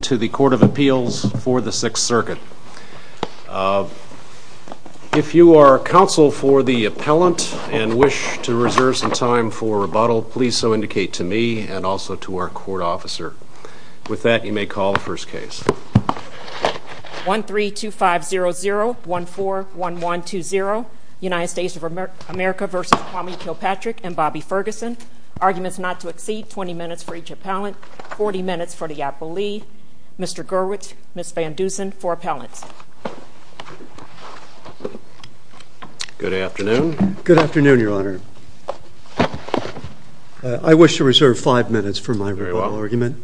to the Court of Appeals for the Sixth Circuit. If you are counsel for the appellant and wish to reserve some time for rebuttal, please so indicate to me and also to our court officer. With that, you may call the first case. 132500141120, United States of America v. Tommy Kilpatrick and Bobby Ferguson, arguments not to exceed 20 minutes for each appellant, 40 minutes for the appellee, Mr. Gurwitch, Ms. Van Dusen for appellant. Good afternoon. Good afternoon, Your Honor. I wish to reserve five minutes for my oral argument.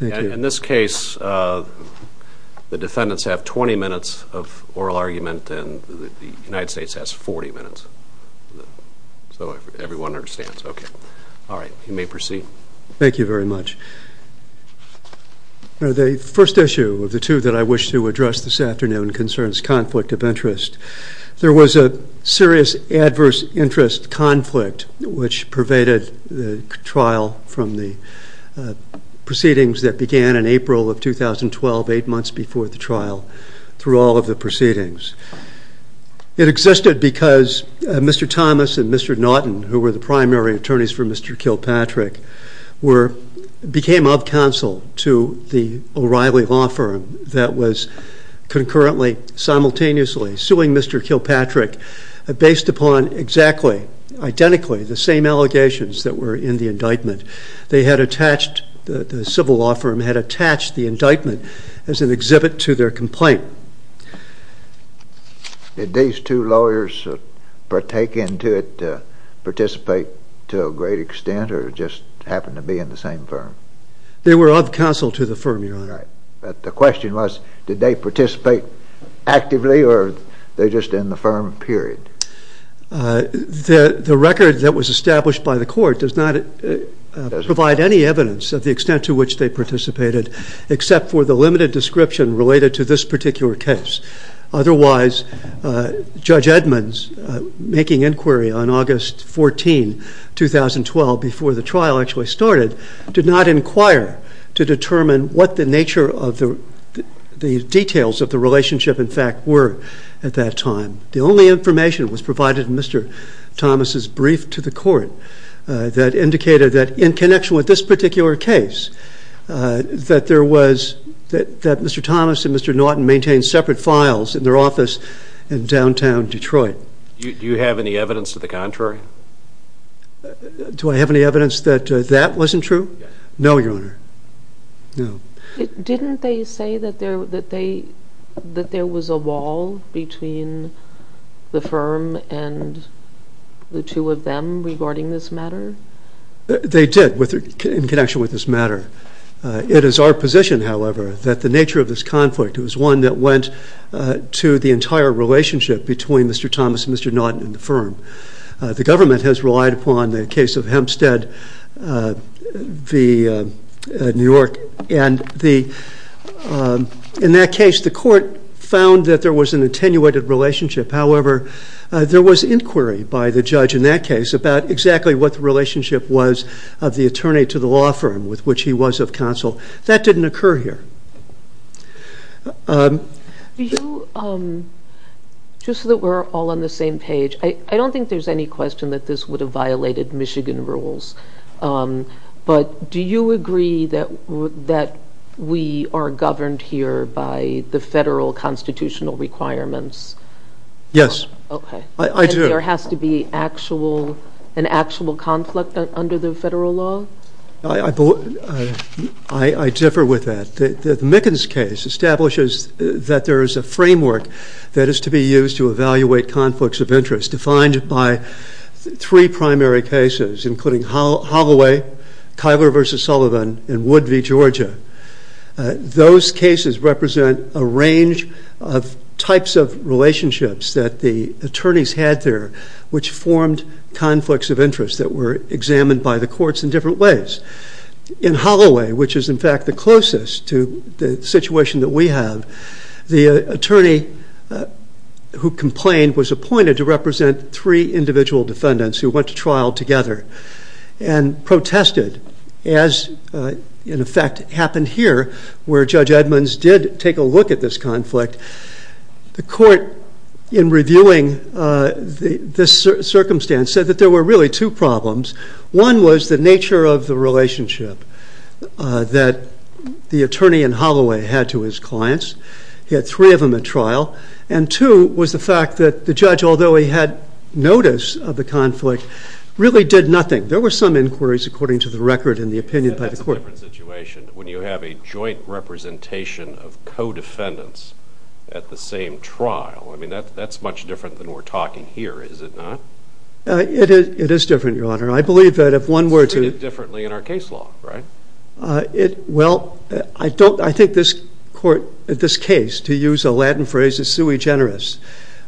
In this case, the defendants have 20 minutes of oral argument and the United States has 40 minutes. So everyone understands. Okay. All right. You may proceed. Thank you very much. Now, the first issue of the two that I wish to address this afternoon concerns conflict of interest. There was a serious adverse interest conflict which pervaded the trial from the proceedings that began in April of 2012, eight months before the trial for all of the proceedings. It existed because Mr. Thomas and Mr. Naughton, who were the primary attorneys for Mr. Kilpatrick, became up counsel to the O'Reilly law firm that was concurrently, simultaneously suing Mr. Kilpatrick based upon exactly, identically the same allegations that were in the indictment. They had attached, the civil law firm had attached the indictment as an exhibit to their complaint. Did these two lawyers partake into it, participate to a great extent or just happen to be in the same firm? They were up counsel to the firm, Your Honor. Right. But the question was, did they participate actively or they're just in the firm, period? The record that was established by the court does not provide any evidence of the extent to which they participated, except for the limited description related to this particular case. Otherwise, Judge Edmonds, making inquiry on August 14, 2012, before the trial actually started, did not inquire to determine what the nature of the details of the relationship in fact were at that time. The only information was provided in Mr. Thomas' brief to the court that indicated that in connection with this particular case, that there was, that Mr. Thomas and Mr. Naughton maintained separate files in their office in downtown Detroit. Do you have any evidence to the contrary? Do I have any evidence that that wasn't true? No, Your Honor. Didn't they say that there was a wall between the firm and the two of them regarding this matter? They did, in connection with this matter. It is our position, however, that the nature of this conflict was one that went to the entire relationship between Mr. Thomas and Mr. Naughton in the firm. The government has relied upon the case of Hempstead v. New York. In that case, the court found that there was an attenuated relationship. However, there was inquiry by the judge in that case about exactly what the relationship was of the attorney to the law firm with which he was of counsel. That didn't occur here. Do you, just so that we're all on the same page, I don't think there's any question that this would have violated Michigan rules, but do you agree that we are governed here by the federal constitutional requirements? Yes. Okay. I do. Does there have to be an actual conflict under the federal law? I differ with that. The Mickens case establishes that there is a framework that is to be used to evaluate conflicts of interest, defined by three primary cases, including Holloway, Tyler v. Sullivan, and Wood v. Georgia. Those cases represent a range of types of relationships that the attorneys had there, which formed conflicts of interest that were examined by the courts in different ways. In Holloway, which is in fact the closest to the situation that we have, the attorney who complained was appointed to represent three individual defendants who went to trial together and protested, as in effect happened here, where Judge Edmonds did take a look at this conflict. The court, in reviewing this circumstance, said that there were really two problems. One was the nature of the relationship that the attorney in Holloway had to his clients. He had three of them at trial. And two was the fact that the judge, although he had notice of the conflict, really did nothing. There were some inquiries, according to the record and the opinion by the court. That's a different situation when you have a joint representation of co-defendants at the same trial. I mean, that's much different than we're talking here, is it not? It is different, Your Honor. I believe that if one were to... It's different in our case law, right? Well, I think this court, this case, to use a Latin phrase, is sui generis.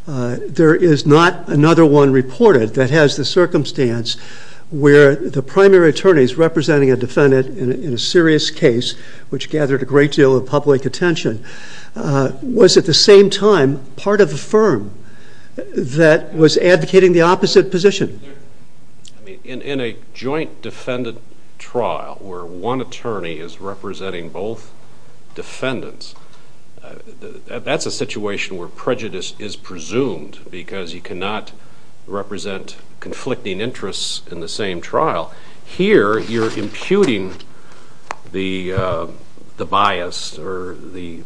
There is not another one reported that has the circumstance where the primary attorneys representing a defendant in a serious case, which gathered a great deal of public attention, was at the same time part of the firm that was advocating the opposite position. In a joint defendant trial where one attorney is representing both defendants, that's a situation where prejudice is presumed because you cannot represent conflicting interests in the same trial. Here, you're imputing the bias or the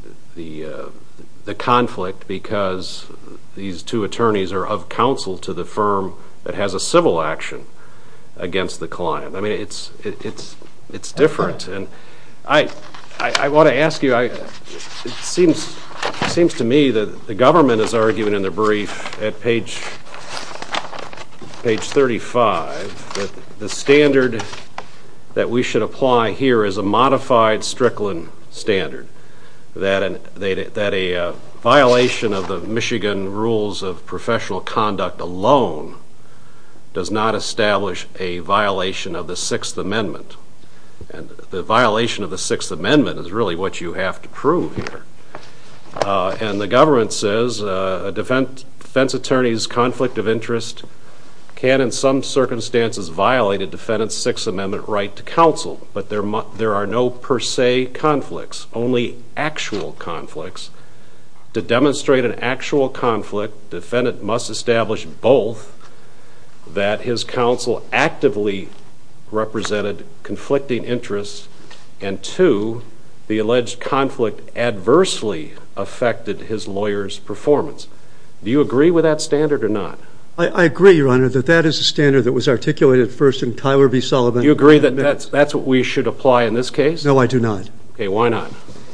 conflict because these two attorneys are of counsel to the firm that has a civil action against the client. I mean, it's different. I want to ask you, it seems to me that the government is arguing in the brief at page 35 that the standard that we should apply here is a modified Strickland standard, that a violation of the Michigan rules of professional conduct alone does not establish a violation of the Sixth Amendment. The violation of the Sixth Amendment is really what you have to prove here. The government says a defense attorney's conflict of interest can in some circumstances violate a defendant's Sixth Amendment right to counsel, but there are no per se conflicts, only actual conflicts. To demonstrate an actual conflict, the defendant must establish both that his counsel actively represented conflicting interests and two, the alleged conflict adversely affected his lawyer's performance. Do you agree with that standard or not? I agree, Your Honor, that that is a standard that was articulated first in Tyler v. Sullivan. You agree that that's what we should apply in this case? No, I do not. Okay, why not?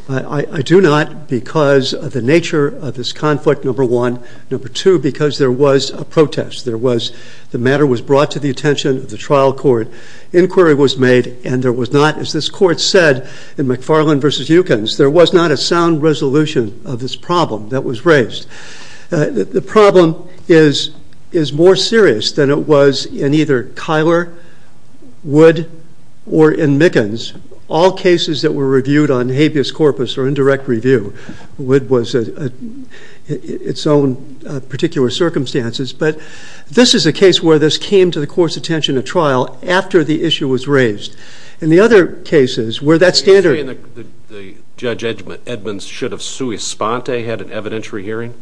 I do not because of the nature of this conflict, number one. Number two, because there was a protest. There was, the matter was brought to the attention of the trial court, inquiry was made, and there was not, as this court said in McFarland v. Eukins, there was not a sound resolution of this problem that was raised. The problem is more serious than it was in either Kyler, Wood, or in Mickens. All cases that were reviewed on habeas corpus or indirect review, Wood was at its own particular circumstances, but this is a case where this came to the court's attention at trial after the issue was raised. In the other cases, where that standard... Are you saying that Judge Edmunds should have sui sponte, had an evidentiary hearing?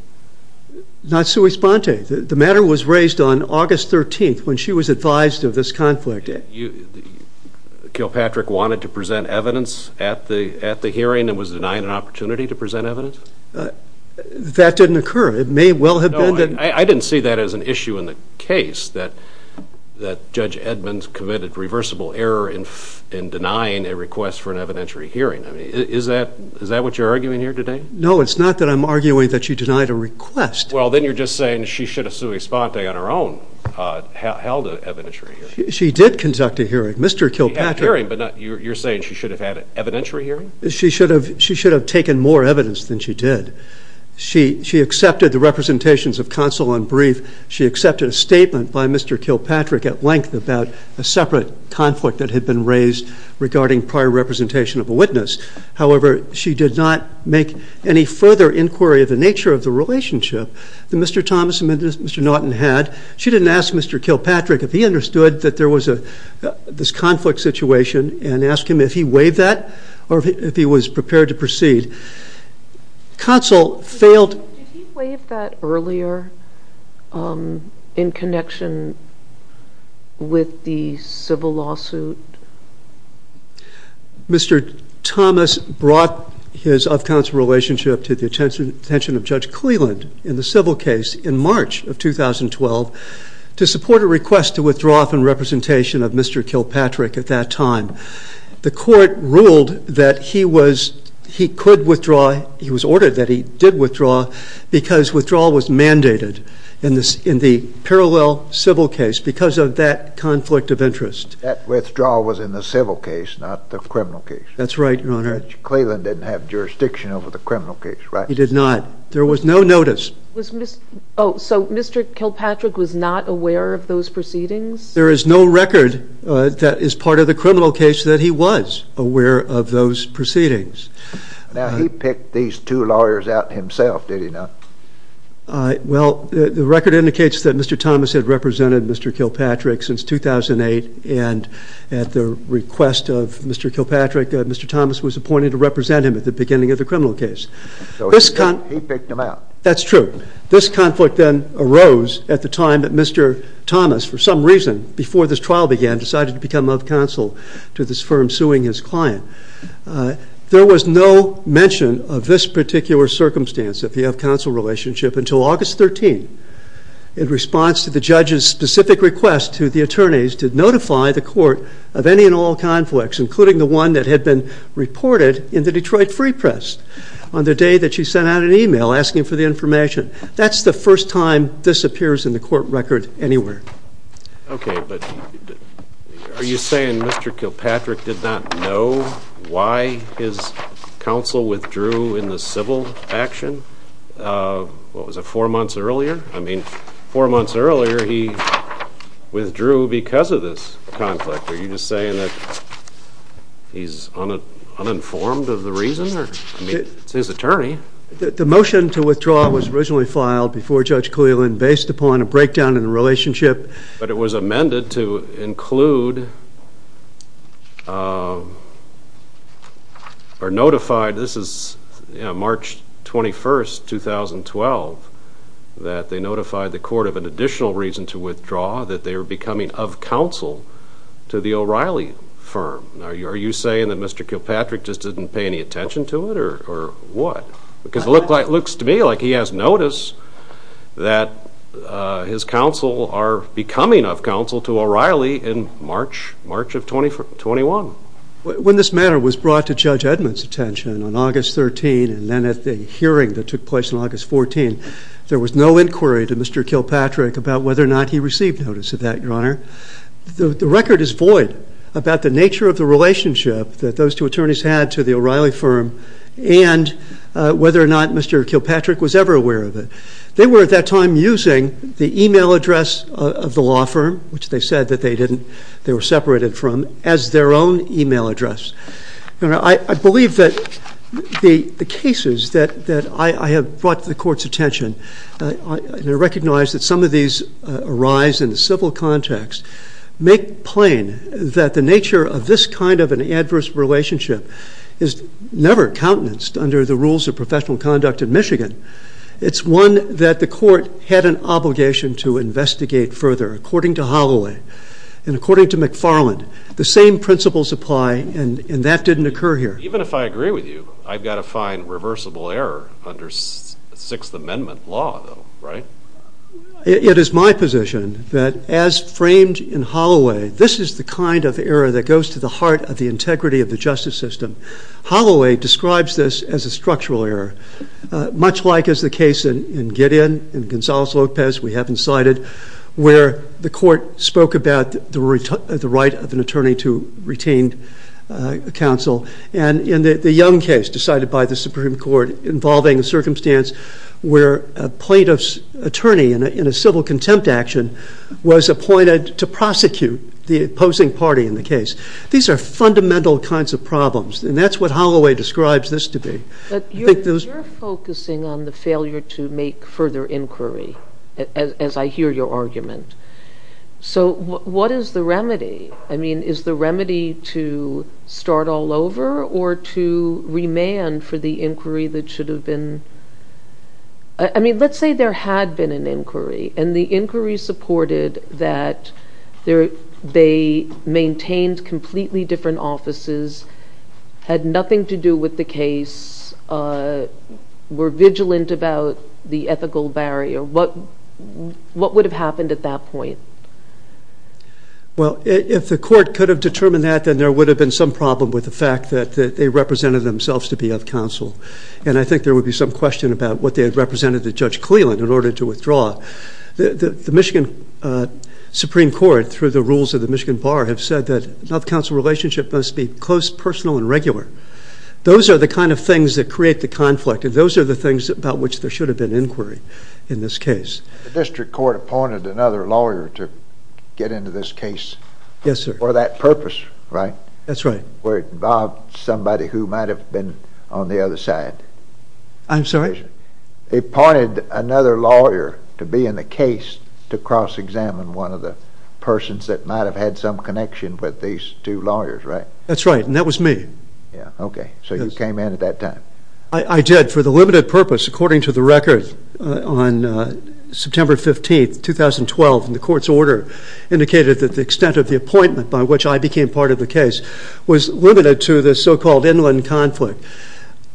Not sui sponte. The matter was raised on August 13th when she was advised of this conflict. Kilpatrick wanted to present evidence at the hearing and was denied an opportunity to present evidence? That didn't occur. It may well have been... No, I didn't see that as an issue in the case, that Judge Edmunds committed reversible error in denying a request for an evidentiary hearing. Is that what you're arguing here today? No, it's not that I'm arguing that she denied a request. Well then you're just saying she should have sui sponte on her own, held an evidentiary She did conduct a hearing. Mr. Kilpatrick... She had a hearing, but you're saying she should have had an evidentiary hearing? She should have taken more evidence than she did. She accepted the representations of counsel on brief. She accepted a statement by Mr. Kilpatrick at length about a separate conflict that had been raised regarding prior representation of a witness. However, she did not make any further inquiry of the nature of the relationship that Mr. Thomas and Mr. Naughton had. She didn't ask Mr. Kilpatrick if he understood that there was this conflict situation and asked him if he weighed that or if he was prepared to proceed. Counsel failed... Did he weigh that earlier in connection with the civil lawsuit? Mr. Thomas brought his up-counsel relationship to the attention of Judge Cleland in the civil case in March of 2012 to support a request to withdraw up in representation of Mr. Kilpatrick at that time. The court ruled that he could withdraw. He was ordered that he did withdraw because withdrawal was mandated in the parallel civil case because of that conflict of interest. That withdrawal was in the civil case, not the criminal case. That's right, Your Honor. Judge Cleland didn't have jurisdiction over the criminal case, right? He did not. There was no notice. Oh, so Mr. Kilpatrick was not aware of those proceedings? There is no record that is part of the criminal case that he was aware of those proceedings. Now, he picked these two lawyers out himself, did he not? Well, the record indicates that Mr. Thomas had represented Mr. Kilpatrick since 2008 and at the request of Mr. Kilpatrick, Mr. Thomas was appointed to represent him at the beginning of the criminal case. So he picked them out. That's true. This conflict then arose at the time that Mr. Thomas, for some reason, before this trial began, decided to become off-counsel to this firm suing his client. There was no mention of this particular circumstance of the off-counsel relationship until August 13th in response to the judge's specific request to the attorneys to notify the court of any and all conflicts, including the one that had been reported in the Detroit Free Press on the day that she sent out an email asking for the information. That's the first time this appears in the court record anywhere. Okay, but are you saying Mr. Kilpatrick did not know why his counsel withdrew in the civil action? What was it, four months earlier? I mean, four months earlier he withdrew because of this conflict. Are you just saying that he's uninformed of the reason? I mean, it's his attorney. The motion to withdraw was originally filed before Judge Kalilin based upon a breakdown in the relationship. But it was amended to include, or notified, this is March 21st, 2012, that they notified the court of an additional reason to withdraw, that they were becoming of counsel to the O'Reilly firm. Are you saying that Mr. Kilpatrick just didn't pay any attention to it, or what? Because it looks to me like he has notice that his counsel are becoming of counsel to O'Reilly in March of 21. When this matter was brought to Judge Edmund's attention on August 13th and then at the hearing that took place on August 14th, there was no inquiry to Mr. Kilpatrick about whether or not he received notice of that, Your Honor. The record is void about the nature of the relationship that those two attorneys had to the O'Reilly firm and whether or not Mr. Kilpatrick was ever aware of it. They were at that time using the email address of the law firm, which they said that they didn't, they were separated from, as their own email address. I believe that the cases that I have brought to the court's attention, I recognize that some of these arise in the civil context, make plain that the nature of this kind of an adverse relationship is never countenanced under the rules of professional conduct in Michigan. It's one that the court had an obligation to investigate further. According to Holloway and according to McFarland, the same principles apply and that didn't occur here. Even if I agree with you, I've got to find reversible error under Sixth Amendment law, though, right? It is my position that as framed in Holloway, this is the kind of error that goes to the heart of the integrity of the justice system. Holloway describes this as a structural error, much like is the case in Gideon, in Gonzales-Lopez, we haven't cited, where the court spoke about the right of an attorney to retain counsel. In the Young case, decided by the Supreme Court, involving a circumstance where a plaintiff's attorney in a civil contempt action was appointed to prosecute the opposing party in the case. These are fundamental kinds of problems and that's what Holloway describes this to be. You're focusing on the failure to make further inquiry, as I hear your argument. What is the remedy? Is the remedy to start all over or to remand for the inquiry that should have been... Let's say there had been an inquiry and the inquiry supported that they maintained completely different offices, had nothing to do with the case, were vigilant about the ethical barrier. What would have happened at that point? Well, if the court could have determined that, then there would have been some problem with the fact that they represented themselves to be at counsel. And I think there would be some question about what they had represented to Judge Cleland in order to withdraw. The Michigan Supreme Court, through the rules of the Michigan Bar, have said that not counsel relationship must be close, personal, and regular. Those are the kind of things that create the conflict and those are the things about which there should have been inquiry in this case. The district court appointed another lawyer to get into this case for that purpose, right? That's right. Where it involved somebody who might have been on the other side. I'm sorry? They appointed another lawyer to be in the case to cross-examine one of the persons that might have had some connection with these two lawyers, right? That's right, and that was me. Yeah, okay. So you came in at that time. I did for the limited purpose, according to the record, on September 15, 2012, and the court's order indicated that the extent of the appointment by which I became part of the case was limited to the so-called inland conflict.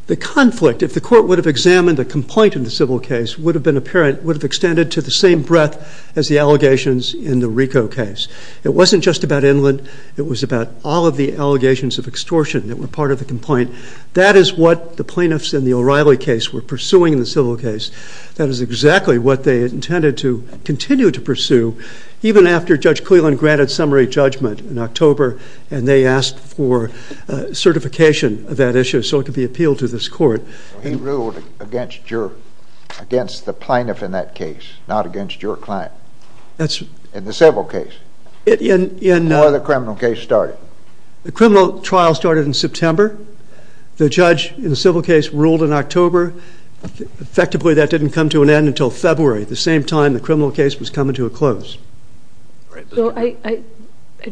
The conflict, if the court would have examined the complaint in the civil case, would have been apparent, would have extended to the same breadth as the allegations in the Rico case. It wasn't just about inland. It was about all of the allegations of extortion that were part of the complaint. That is what the plaintiffs in the O'Reilly case were pursuing in the civil case. That is exactly what they intended to continue to pursue, even after Judge Cleland granted summary judgment in October and they asked for certification of that issue so it could be appealed to this court. He ruled against the plaintiff in that case, not against your client. In the civil case? How did the criminal case start? The criminal trial started in September. The judge in the civil case ruled in October. Effectively, that didn't come to an end until February, the same time the criminal case was coming to a close. So I'd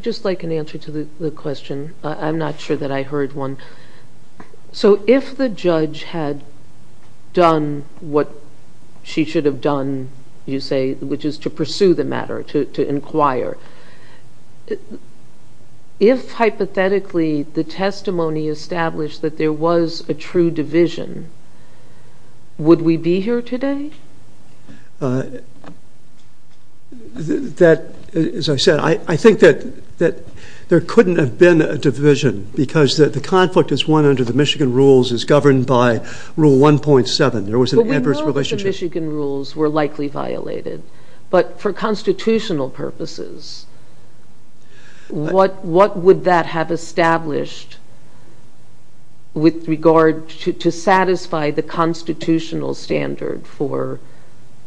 just like an answer to the question. I'm not sure that I heard one. So if the judge had done what she should have done, you say, which is to pursue the matter, to inquire, if hypothetically the testimony established that there was a true division, would we be here today? That, as I said, I think that there couldn't have been a division because the conflict that's won under the Michigan rules is governed by Rule 1.7. There was an adverse relationship. But we know that the Michigan rules were likely violated. But for constitutional purposes, what would that have established with regard to satisfy the constitutional standard for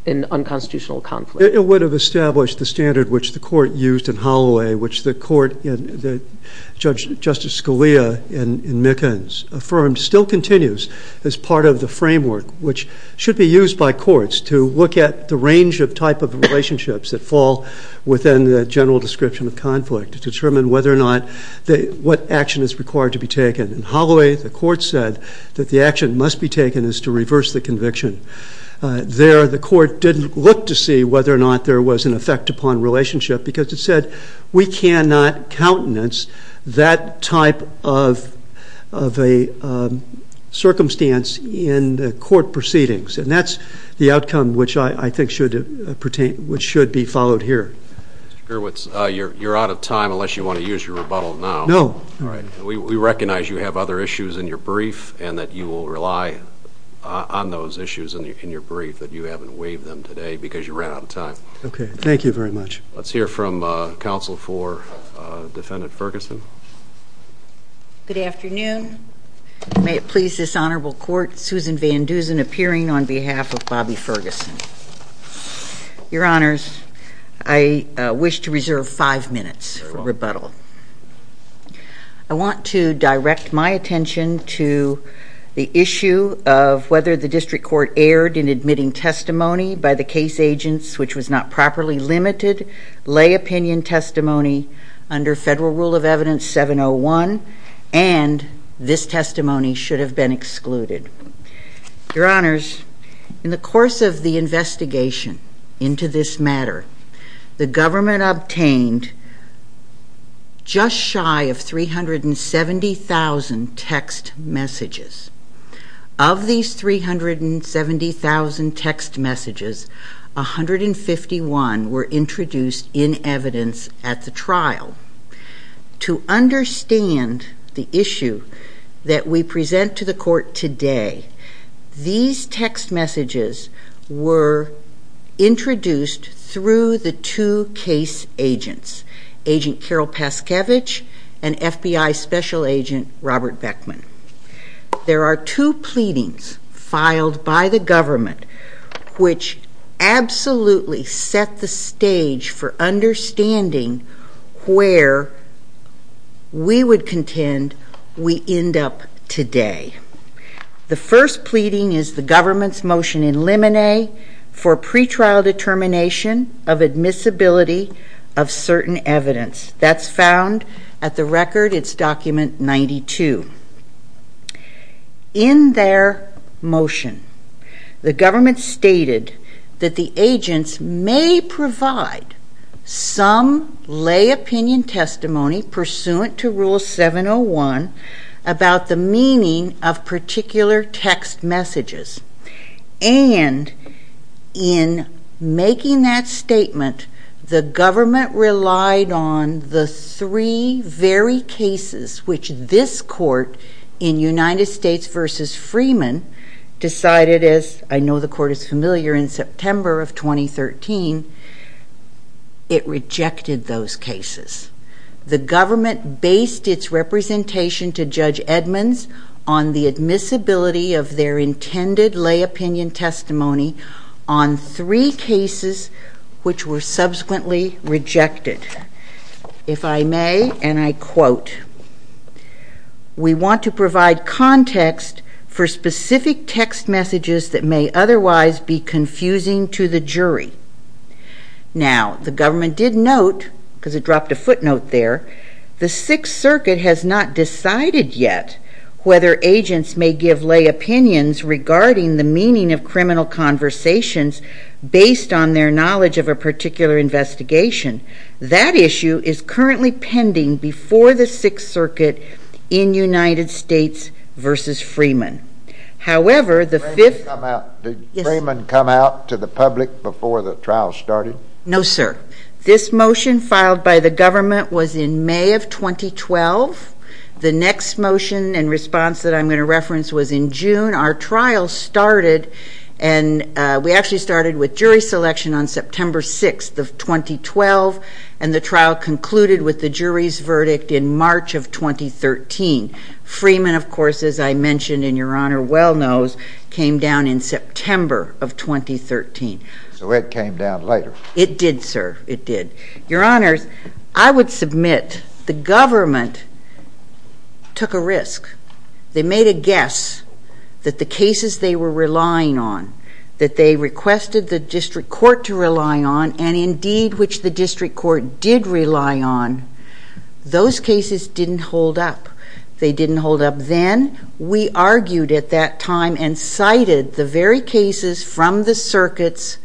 an unconstitutional conflict? It would have established the standard which the court used in Holloway, which the court in, Justice Scalia in Mickens affirmed, still continues as part of the framework, which should be used by courts to look at the range of type of relationships that fall within the general description of conflict to determine whether or not, what action is required to be taken. In Holloway, the court said that the action must be taken is to reverse the conviction. There, the court didn't look to see whether or not there was an effect upon relationship because it said, we cannot countenance that type of a circumstance in the court proceedings. And that's the outcome which I think should be followed here. You're out of time unless you want to use your rebuttal now. No. All right. We recognize you have other issues in your brief and that you will rely on those issues in your brief that you haven't waived them today because you're right on time. Okay. Thank you very much. Let's hear from counsel for defendant Ferguson. Good afternoon. May it please this honorable court, Susan Van Dusen appearing on behalf of Bobby Ferguson. Your honors, I wish to reserve five minutes for rebuttal. I want to direct my attention to the issue of whether the district court erred in admitting testimony by the case agents which was not properly limited, lay opinion testimony under federal rule of evidence 701 and this testimony should have been excluded. Your honors, in the course of the investigation into this matter, the government obtained just shy of 370,000 text messages. Of these 370,000 text messages, 151 were introduced in evidence at the trial. To understand the issue that we present to the court today, these text messages were introduced through the two case agents, agent Carol Paskevich and FBI special agent Robert Beckman. There are two pleadings filed by the government which absolutely set the stage for understanding where we would contend we end up today. The first pleading is the government's motion in limine for pretrial determination of admissibility of certain evidence. That's found at the record, it's document 92. In their motion, the government stated that the agents may provide some lay opinion testimony pursuant to rule 701 about the meaning of particular text messages. And in making that statement, the government relied on the three very cases which this court in United States v. Freeman decided, as I know the court is familiar, in September of 2013, it rejected those cases. The government based its representation to Judge Edmonds on the admissibility of their intended lay opinion testimony on three cases which were subsequently rejected. If I may, and I quote, we want to provide context for specific text messages that may otherwise be confusing to the jury. Now, the government did note, because it dropped a footnote there, the Sixth Circuit has not decided yet whether agents may give lay opinions regarding the meaning of criminal conversations based on their knowledge of a particular investigation. That issue is currently pending before the Sixth Circuit in United States v. Freeman. Did Freeman come out to the public before the trial started? No, sir. This motion filed by the government was in May of 2012. The next motion and response that I'm going to reference was in June. Our trial started and we actually started with jury selection on September 6th of 2012 and the trial concluded with the jury's verdict in March of 2013. Freeman, of course, as I mentioned and your Honor well knows, came down in September of 2013. So it came down later? It did, sir. It did. Your Honor, I would submit the government took a risk. They made a guess that the cases they were relying on, that they requested the district court to rely on and indeed which the district court did rely on, those cases didn't hold up. They didn't hold up then. We argued at that time and cited the very cases from the circuits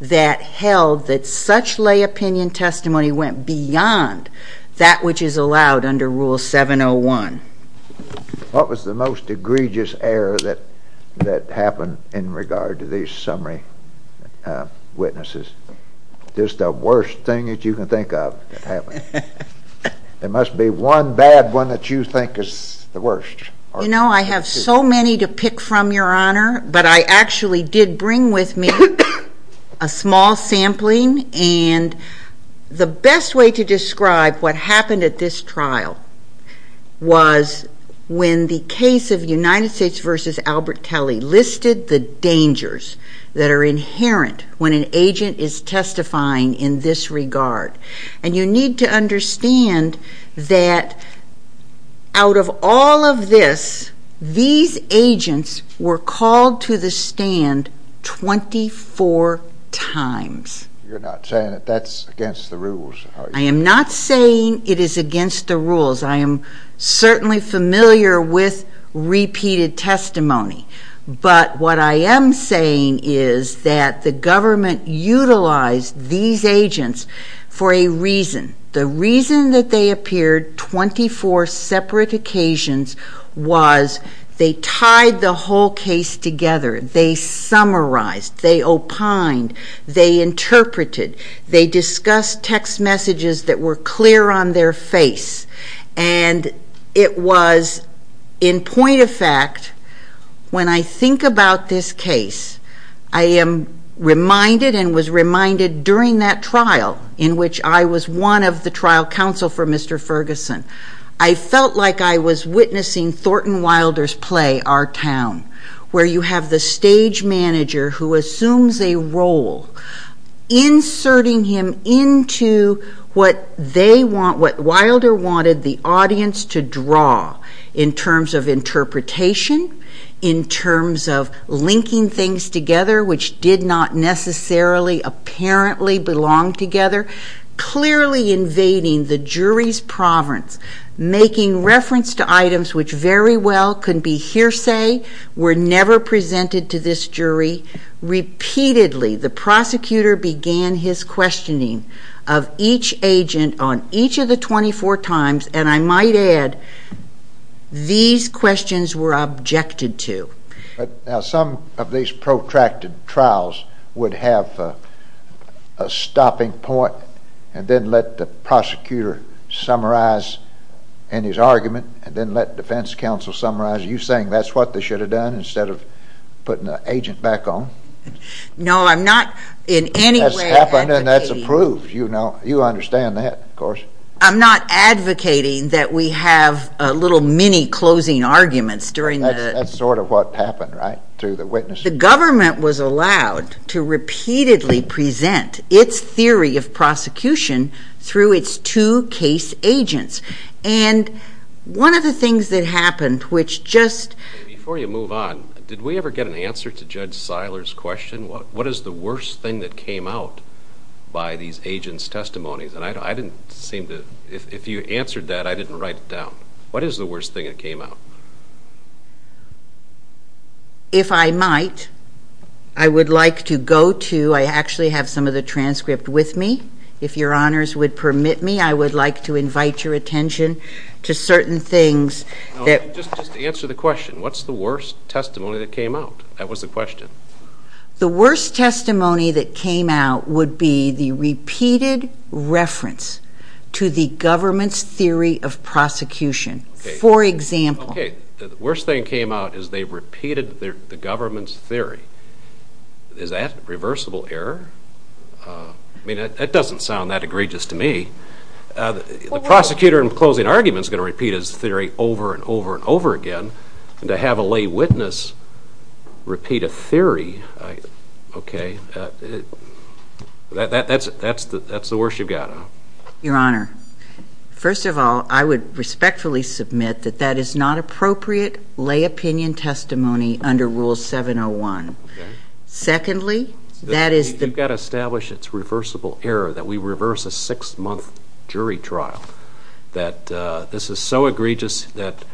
that held that such lay opinion testimony went beyond that which is allowed under Rule 701. What was the most egregious error that happened in regard to these summary witnesses? Just the worst thing that you can think of that happened. There must be one bad one that you think is the worst. You know, I have so many to pick from, Your Honor, but I actually did bring with me a small sampling and the best way to describe what happened at this trial was when the case of United States v. Albert Talley listed the dangers that are inherent when an agent is testifying in this regard and you need to understand that out of all of this, these agents were called to the stand 24 times. You're not saying that that's against the rules, are you? I am not saying it is against the rules. I am certainly familiar with repeated testimony, but what I am saying is that the government utilized these agents for a reason. The reason that they appeared 24 separate occasions was they tied the whole case together. They summarized. They opined. They interpreted. They discussed text messages that were clear on their face. It was in point of fact, when I think about this case, I am reminded and was reminded during that trial in which I was one of the trial counsel for Mr. Ferguson, I felt like I was witnessing Thornton Wilder's play, Our Town, where you have the stage manager who assumes a role, inserting him into what Wilder wanted the audience to draw in terms of interpretation, in terms of linking things together which did not necessarily apparently belong together, clearly invading the jury's province, making reference to items which very well could be hearsay were never presented to this jury. Repeatedly, the prosecutor began his questioning of each agent on each of the 24 times, and I might add, these questions were objected to. Some of these protracted trials would have a stopping point and then let the prosecutor summarize in his argument and then let defense counsel summarize, you're saying that's what they should have done instead of putting the agent back on? No, I'm not in any way advocating... That's happened and that's approved, you know, you understand that, of course. I'm not advocating that we have a little mini-closing arguments during the... That's sort of what happened, right, through the witnesses? The government was allowed to repeatedly present its theory of prosecution through its two case agents, and one of the things that happened, which just... Before you move on, did we ever get an answer to Judge Seiler's question, what is the worst thing that came out by these agents' testimonies? And I didn't seem to... If you answered that, I didn't write it down. What is the worst thing that came out? If I might, I would like to go to... I actually have some of the transcript with me. If your honors would permit me, I would like to invite your attention to certain things that... Just answer the question, what's the worst testimony that came out? That was the question. The worst testimony that came out would be the repeated reference to the government's theory of prosecution. For example... Okay, the worst thing that came out is they repeated the government's theory. Is that a reversible error? I mean, that doesn't sound that egregious to me. The prosecutor in the closing argument is going to repeat his theory over and over and over again, and to have a lay witness repeat a theory, okay, that's the worst you've got. Your honor, first of all, I would respectfully submit that that is not appropriate lay opinion testimony under Rule 701. Secondly, that is... You've got to establish it's reversible error, that we reverse a six-month jury trial, that this is so egregious that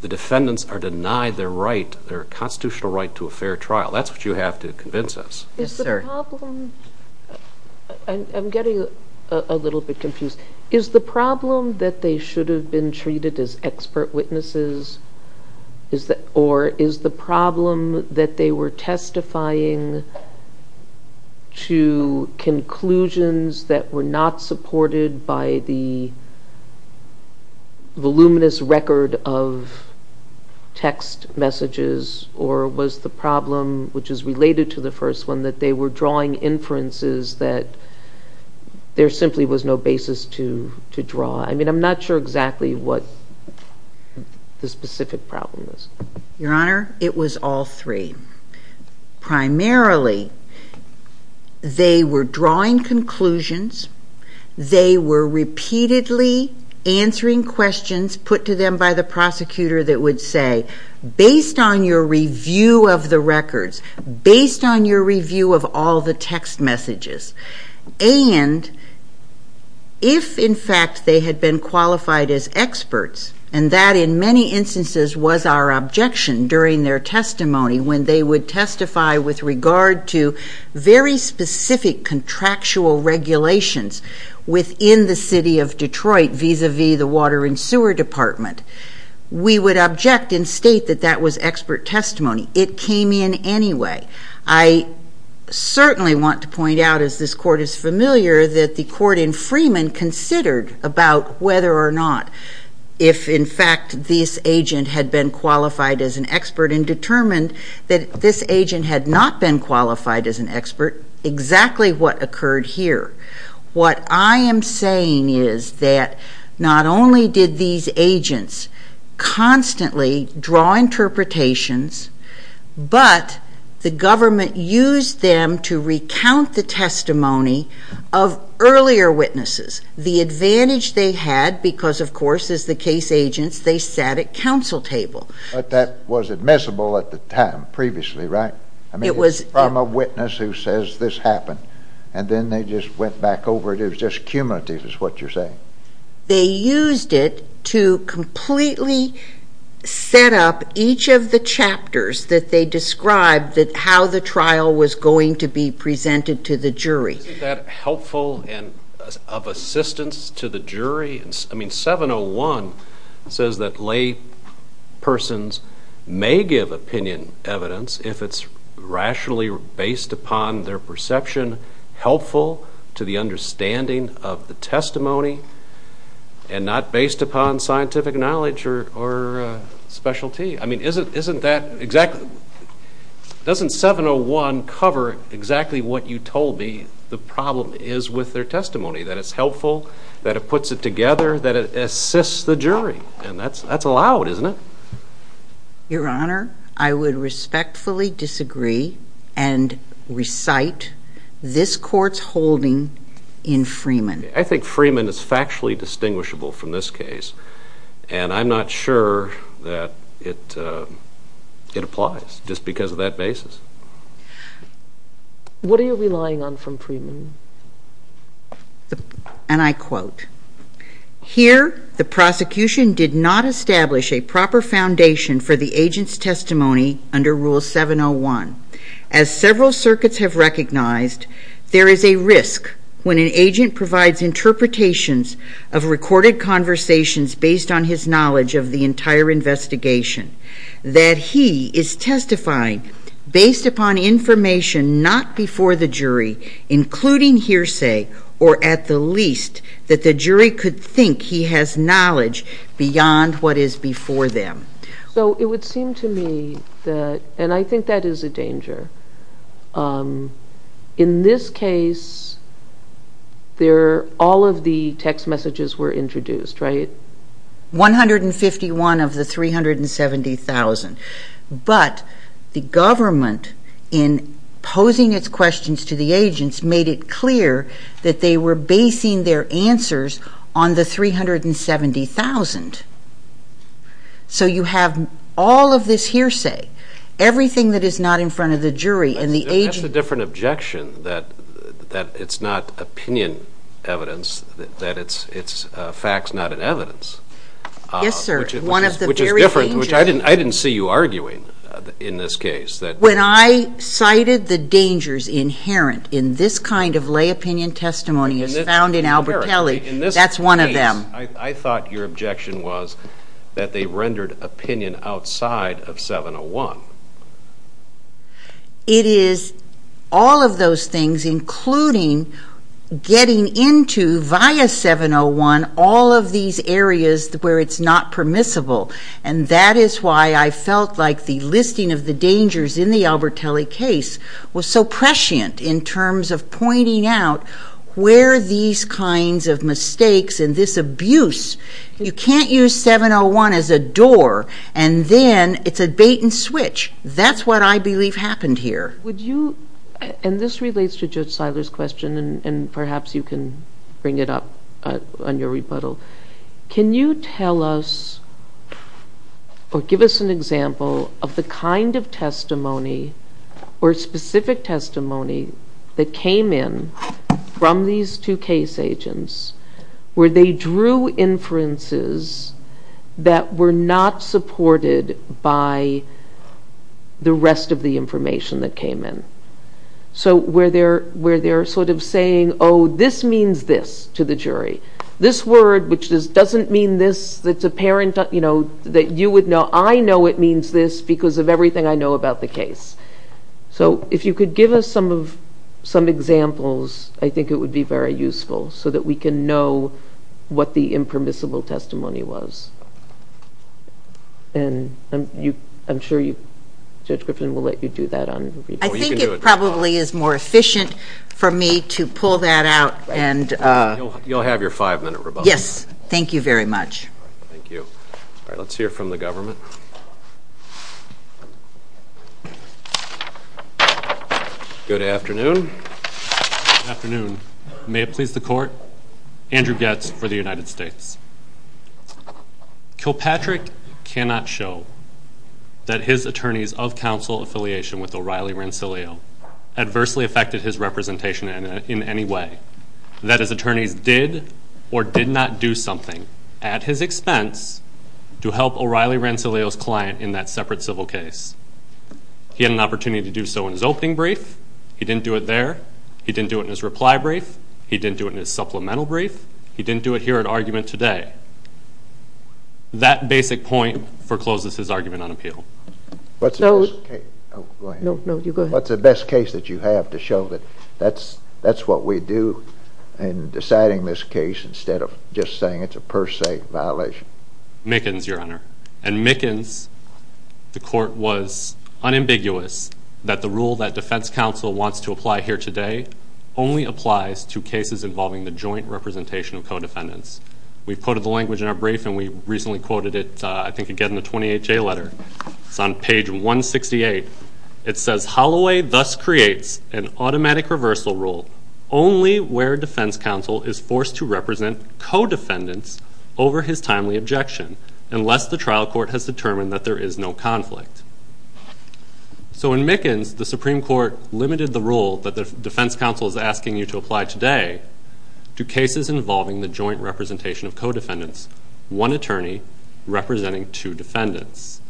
the defendants are denied their constitutional right to a fair trial. That's what you have to convince us. I'm getting a little bit confused. Is the problem that they should have been treated as expert witnesses, or is the problem that they were testifying to conclusions that were not supported by the voluminous record of text messages, or was the problem, which is related to the first one, that they were drawing inferences that there simply was no basis to draw? I mean, I'm not sure exactly what the specific problem is. Your honor, it was all three. Primarily, they were drawing conclusions, they were repeatedly answering questions put to them by the prosecutor that would say, based on your review of the records, based on your review of all the text messages, and if, in fact, they had been qualified as experts, and that, in many instances, was our objection during their testimony, when they would testify with regard to very specific contractual regulations within the city of Detroit, vis-a-vis the Water and Sewer Department, we would object and state that that was expert testimony. It came in anyway. I certainly want to point out, as this Court is familiar, that the Court in Freeman considered about whether or not, if, in fact, this agent had been qualified as an expert, and determined that this agent had not been qualified as an expert, exactly what occurred here. What I am saying is that not only did these agents constantly draw interpretations, but the government used them to recount the testimony of earlier witnesses. The advantage they had, because, of course, as the case agents, they sat at counsel tables. But that was admissible at the time, previously, right? It was. From a witness who says, this happened. And then they just went back over it. It was just cumulative, is what you're saying. They used it to completely set up each of the chapters that they described how the trial was going to be presented to the jury. Isn't that helpful and of assistance to the jury? I mean, 701 says that laypersons may give opinion evidence if it's rationally based upon their perception, helpful to the understanding of the testimony, and not based upon scientific knowledge or specialty. I mean, doesn't 701 cover exactly what you told me the problem is with their testimony, that it's helpful, that it puts it together, that it assists the jury? And that's allowed, isn't it? Your Honor, I would respectfully disagree and recite this court's holding in Freeman. I think Freeman is factually distinguishable from this case, and I'm not sure that it applies just because of that basis. What are you relying on from Freeman? And I quote, Here, the prosecution did not establish a proper foundation for the agent's testimony under Rule 701. As several circuits have recognized, there is a risk when an agent provides interpretations of recorded conversations based on his knowledge of the entire investigation, that he is testifying based upon information not before the jury, including hearsay, or at the least, that the jury could think he has knowledge beyond what is before them. So it would seem to me that, and I think that is a danger. In this case, all of the text messages were introduced, right? 151 of the 370,000. But the government, in posing its questions to the agents, made it clear that they were basing their answers on the 370,000. So you have all of this hearsay, everything that is not in front of the jury and the agent. That's a different objection, that it's not opinion evidence, that it's facts not in evidence. Yes, sir. Which is different, which I didn't see you arguing in this case. When I cited the dangers inherent in this kind of lay opinion testimony as found in Albert Kelley, that's one of them. I thought your objection was that they rendered opinion outside of 701. It is all of those things, including getting into, via 701, all of these areas where it's not permissible. And that is why I felt like the listing of the dangers in the Albert Kelley case was so prescient in terms of pointing out where these kinds of mistakes and this abuse, you can't use 701 as a door and then it's a bait and switch. That's what I believe happened here. And this relates to just Siler's question and perhaps you can bring it up on your rebuttal. Can you tell us or give us an example of the kind of testimony or specific testimony that came in from these two case agents where they drew inferences that were not supported by the rest of the information that came in? So where they're sort of saying, oh, this means this to the jury. This word, which doesn't mean this, that's apparent, that you would know, I know it means this because of everything I know about the case. So if you could give us some examples, I think it would be very useful so that we can know what the impermissible testimony was. And I'm sure Judge Griffin will let you do that. I think it probably is more efficient for me to pull that out. You'll have your five-minute rebuttal. Yes, thank you very much. Thank you. All right, let's hear from the government. Good afternoon. Good afternoon. May it please the Court, Andrew Goetz for the United States. Kilpatrick cannot show that his attorneys of counsel affiliation with O'Reilly Rensselaer adversely affected his representation in any way, that his attorneys did or did not do something at his expense to help O'Reilly Rensselaer's client in that separate civil case. He had an opportunity to do so in his opening brief. He didn't do it there. He didn't do it in his reply brief. He didn't do it in his supplemental brief. He didn't do it here at argument today. That basic point forecloses his argument on appeal. What's the best case that you have to show that that's what we do in deciding this case instead of just saying it's a per se violation? Mickens, Your Honor. In Mickens, the Court was unambiguous that the rule that defense counsel wants to apply here today only applies to cases involving the joint representation of co-defendants. We've quoted the language in our brief, and we recently quoted it, I think, again in the 28-J letter. It's on page 168. It says, Holloway thus creates an automatic reversal rule only where defense counsel is forced to represent co-defendants over his timely objection unless the trial court has determined that there is no conflict. So in Mickens, the Supreme Court limited the rule that the defense counsel is asking you to apply today to cases involving the joint representation of co-defendants, one attorney representing two defendants.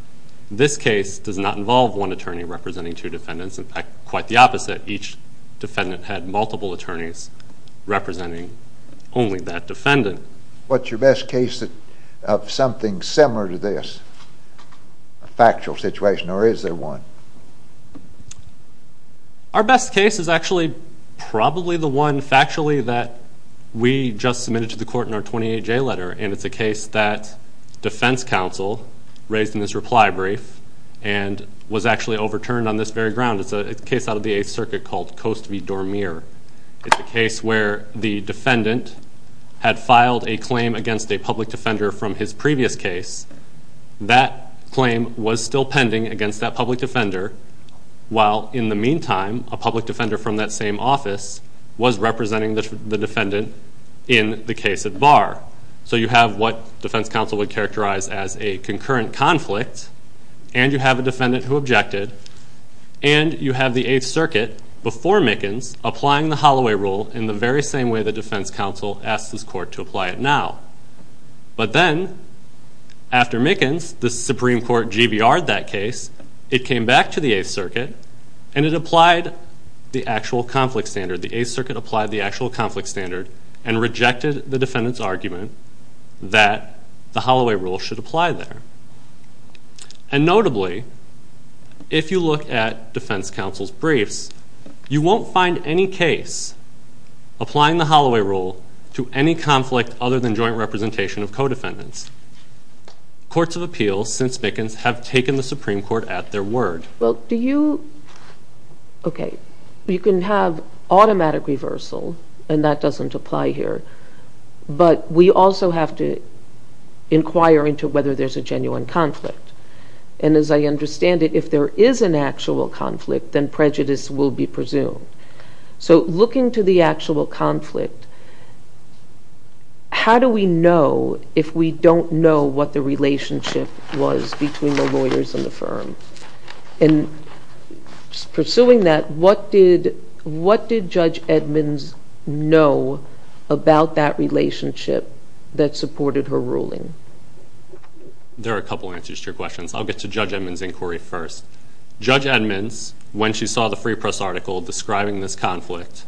This case does not involve one attorney representing two defendants. In fact, quite the opposite. Each defendant had multiple attorneys representing only that defendant. What's your best case of something similar to this, a factual situation, or is there one? Our best case is actually probably the one factually that we just submitted to the Court in our 28-J letter, and it's a case that defense counsel raised in this reply brief and was actually overturned on this very ground. It's a case out of the Eighth Circuit called Coast v. Dormier. It's a case where the defendant had filed a claim against a public defender from his previous case. That claim was still pending against that public defender, while in the meantime a public defender from that same office was representing the defendant in the case of Barr. So you have what defense counsel would characterize as a concurrent conflict, and you have a defendant who objected, and you have the Eighth Circuit, before Mickens, applying the Holloway Rule in the very same way the defense counsel asked his court to apply it now. But then, after Mickens, the Supreme Court GBR'd that case, it came back to the Eighth Circuit, and it applied the actual conflict standard. The Eighth Circuit applied the actual conflict standard and rejected the defendant's argument that the Holloway Rule should apply there. And notably, if you look at defense counsel's briefs, you won't find any case applying the Holloway Rule to any conflict other than joint representation of co-defendants. Courts of Appeal, since Mickens, have taken the Supreme Court at their word. Well, do you... Okay, you can have automatic reversal, and that doesn't apply here, but we also have to inquire into whether there's a genuine conflict. And as I understand it, if there is an actual conflict, then prejudice will be presumed. So looking to the actual conflict, how do we know if we don't know what the relationship was between the lawyers and the firm? And pursuing that, what did Judge Edmonds know about that relationship that supported her ruling? There are a couple answers to your question. I'll get to Judge Edmonds' inquiry first. Judge Edmonds, when she saw the Free Press article describing this conflict,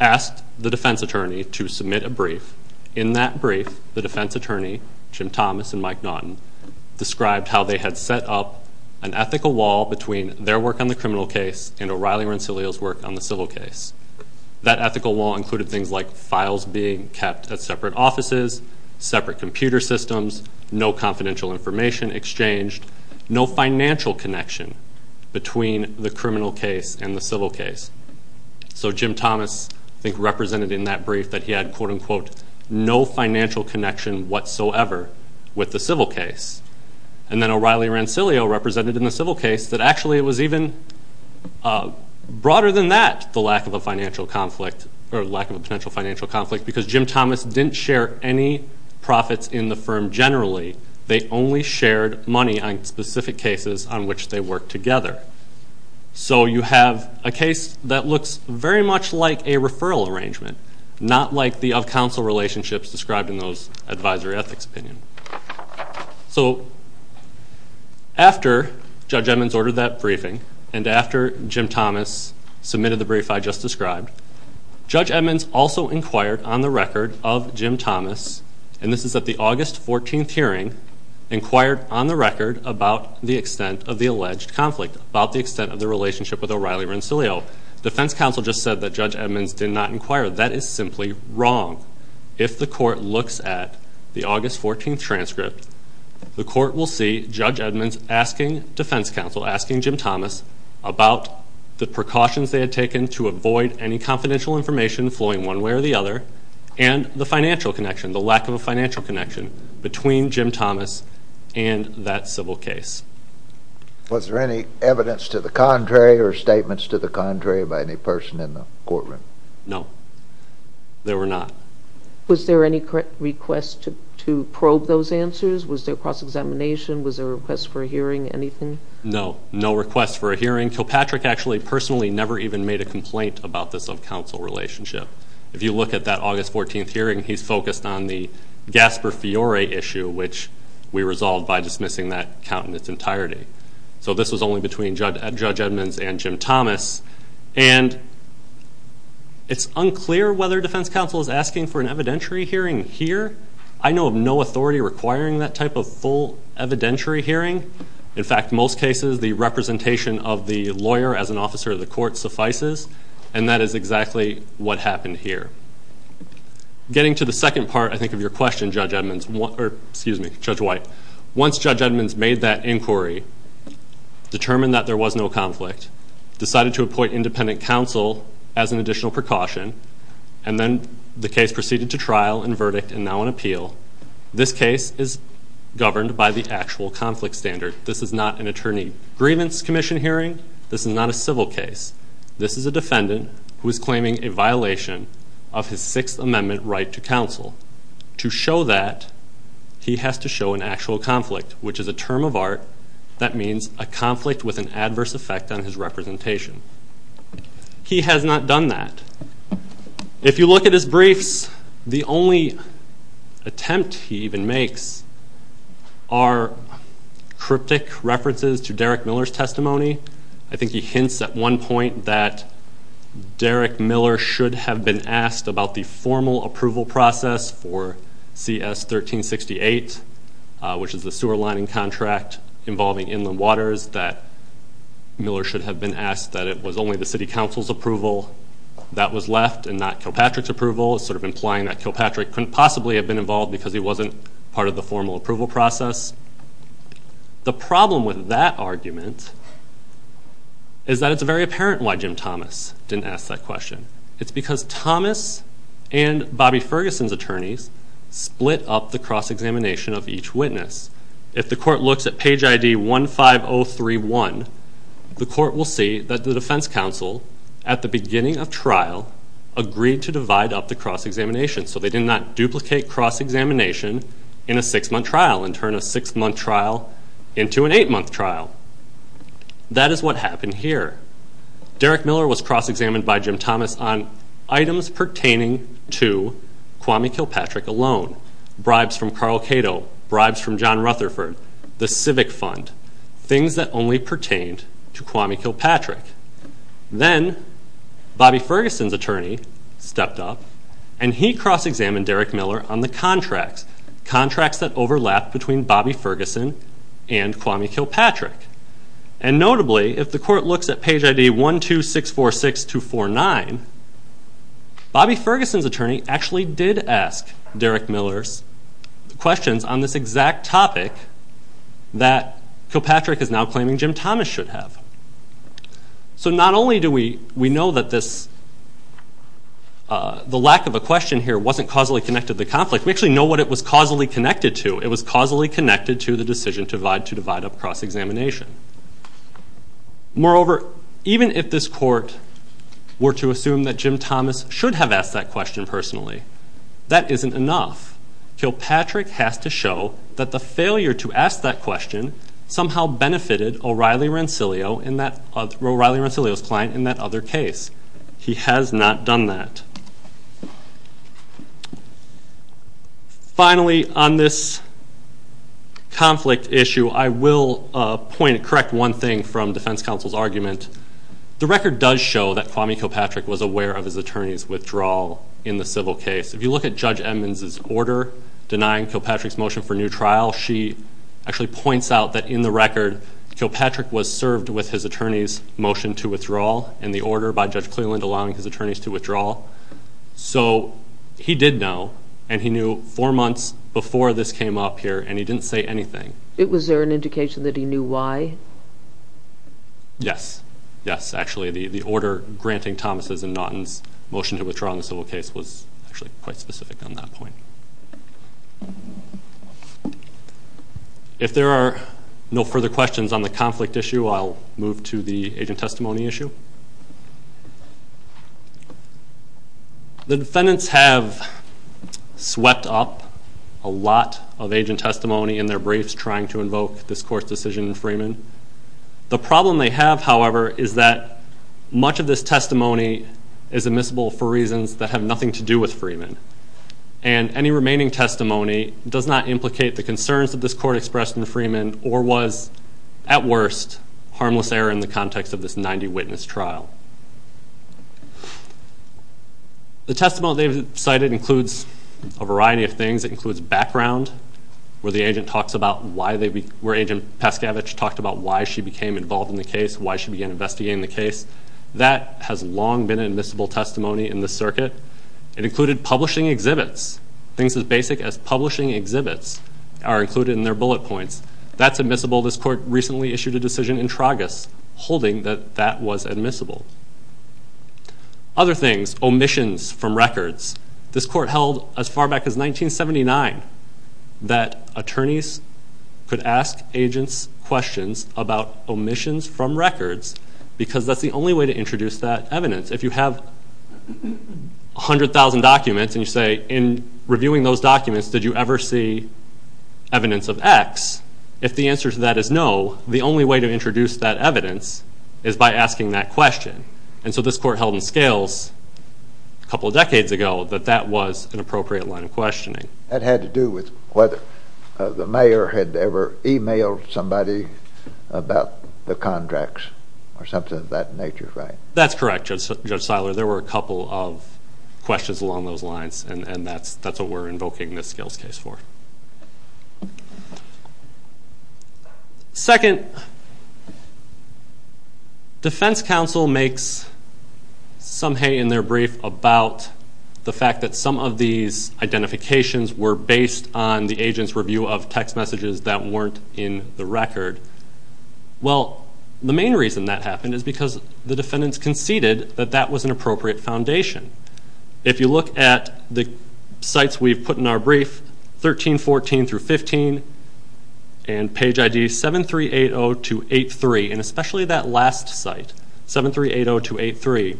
asked the defense attorney to submit a brief. In that brief, the defense attorney, Jim Thomas and Mike Naughton, described how they had set up an ethical wall between their work on the criminal case and O'Reilly Rensselaer's work on the civil case. That ethical wall included things like files being kept at separate offices, separate computer systems, no confidential information exchanged, no financial connection between the criminal case and the civil case. So Jim Thomas, I think, represented in that brief that he had, quote-unquote, no financial connection whatsoever with the civil case. And then O'Reilly Rensselaer represented in the civil case that actually it was even broader than that, the lack of a financial conflict, or lack of a potential financial conflict, because Jim Thomas didn't share any profits in the firm generally. They only shared money on specific cases on which they worked together. So you have a case that looks very much like a referral arrangement, not like the up-counsel relationships described in those advisory ethics opinions. So after Judge Edmonds ordered that briefing, and after Jim Thomas submitted the brief I just described, Judge Edmonds also inquired on the record of Jim Thomas, and this is at the August 14th hearing, inquired on the record about the extent of the alleged conflict, about the extent of the relationship with O'Reilly Rensselaer. Well, the defense counsel just said that Judge Edmonds did not inquire. That is simply wrong. If the court looks at the August 14th transcript, the court will see Judge Edmonds asking defense counsel, asking Jim Thomas, about the precautions they had taken to avoid any confidential information flowing one way or the other, and the financial connection, the lack of a financial connection between Jim Thomas and that civil case. Was there any evidence to the contrary or statements to the contrary by any person in the courtroom? No, there were not. Was there any request to probe those answers? Was there cross-examination? Was there a request for a hearing, anything? No, no request for a hearing. So Patrick actually personally never even made a complaint about this up-counsel relationship. If you look at that August 14th hearing, he focused on the Gaspar Fiore issue, which we resolved by dismissing that count in its entirety. So this was only between Judge Edmonds and Jim Thomas. And it's unclear whether defense counsel is asking for an evidentiary hearing here. I know of no authority requiring that type of full evidentiary hearing. In fact, most cases, the representation of the lawyer as an officer of the court suffices, and that is exactly what happened here. Getting to the second part, I think, of your question, Judge Edmonds, or excuse me, Judge White. Once Judge Edmonds made that inquiry, determined that there was no conflict, decided to appoint independent counsel as an additional precaution, and then the case proceeded to trial and verdict and now an appeal, this case is governed by the actual conflict standard. This is not an attorney grievance commission hearing. This is not a civil case. This is a defendant who is claiming a violation of his Sixth Amendment right to counsel. To show that, he has to show an actual conflict, which is a term of art that means a conflict with an adverse effect on his representation. He has not done that. If you look at his briefs, the only attempt he even makes are cryptic references to Derek Miller's testimony. I think he hints at one point that Derek Miller should have been asked about the formal approval process for CS 1368, which is the sewer lining contract involving inland waters, that Miller should have been asked that it was only the city council's approval that was left and not Kilpatrick's approval, sort of implying that Kilpatrick couldn't possibly have been involved because he wasn't part of the formal approval process. The problem with that argument is that it's very apparent why Jim Thomas didn't ask that question. It's because Thomas and Bobby Ferguson's attorneys split up the cross-examination of each witness. If the court looks at page ID 15031, the court will see that the defense counsel, at the beginning of trial, agreed to divide up the cross-examination. So they did not duplicate cross-examination in a six-month trial and turn a six-month trial into an eight-month trial. That is what happened here. Derek Miller was cross-examined by Jim Thomas on items pertaining to Kwame Kilpatrick alone, bribes from Carl Cato, bribes from John Rutherford, the Civic Fund, things that only pertained to Kwame Kilpatrick. Then Bobby Ferguson's attorney stepped up and he cross-examined Derek Miller on the contract, contracts that overlapped between Bobby Ferguson and Kwame Kilpatrick. And notably, if the court looks at page ID 12646249, Bobby Ferguson's attorney actually did ask Derek Miller's questions on this exact topic that Kilpatrick is now claiming Jim Thomas should have. So not only do we know that the lack of a question here wasn't causally connected to the conflict, we actually know what it was causally connected to. It was causally connected to the decision to divide up cross-examination. Moreover, even if this court were to assume that Jim Thomas should have asked that question personally, that isn't enough. Kilpatrick has to show that the failure to ask that question somehow benefited O'Reilly Rensselaer's client in that other case. He has not done that. Finally, on this conflict issue, I will correct one thing from defense counsel's argument. The record does show that Kwame Kilpatrick was aware of his attorney's withdrawal in the civil case. If you look at Judge Edmunds' order denying Kilpatrick's motion for new trial, she actually points out that in the record, Kilpatrick was served with his attorney's motion to withdraw and the order by Judge Clearland allowing his attorneys to withdraw. So he did know, and he knew four months before this came up here, and he didn't say anything. Was there an indication that he knew why? Yes. Yes, actually. The order granting Thomas' and Naughton's motion to withdraw in the civil case was actually quite specific on that point. If there are no further questions on the conflict issue, I'll move to the agent testimony issue. The defendants have swept up a lot of agent testimony in their briefs trying to invoke this court's decision in Freeman. The problem they have, however, is that much of this testimony is admissible for reasons that have nothing to do with Freeman, and any remaining testimony does not implicate the concerns that this court expressed in Freeman or was, at worst, harmless error in the context of this 90-witness trial. The testimony they've cited includes a variety of things. It includes background, where Agent Paskovich talked about why she became involved in the case, why she began investigating the case. That has long been admissible testimony in the circuit. It included publishing exhibits. Things as basic as publishing exhibits are included in their bullet points. That's admissible. This court recently issued a decision in Tragus holding that that was admissible. Other things, omissions from records. This court held, as far back as 1979, that attorneys could ask agents questions about omissions from records because that's the only way to introduce that evidence. If you have 100,000 documents and you say, in reviewing those documents, did you ever see evidence of X, if the answer to that is no, the only way to introduce that evidence is by asking that question. And so this court held in Scales a couple of decades ago that that was an appropriate line of questioning. That had to do with whether the mayor had ever emailed somebody about the contracts or something of that nature, right? That's correct, Judge Seiler. There were a couple of questions along those lines, and that's what we're invoking this Scales case for. Second, defense counsel makes some hay in their brief about the fact that some of these identifications were based on the agent's review of text messages that weren't in the record. Well, the main reason that happened is because the defendants conceded that that was an appropriate foundation. If you look at the sites we've put in our brief, 1314 through 15, and page ID 7380 to 83, and especially that last site, 7380 to 83,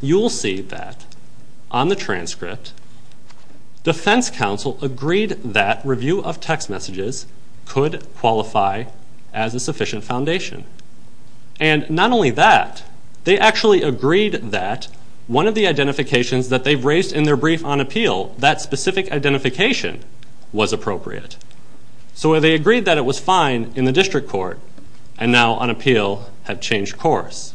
you'll see that on the transcript, defense counsel agreed that review of text messages could qualify as a sufficient foundation. And not only that, they actually agreed that one of the identifications that they've raised in their brief on appeal, that specific identification, was appropriate. So they agreed that it was fine in the district court, and now on appeal at changed course.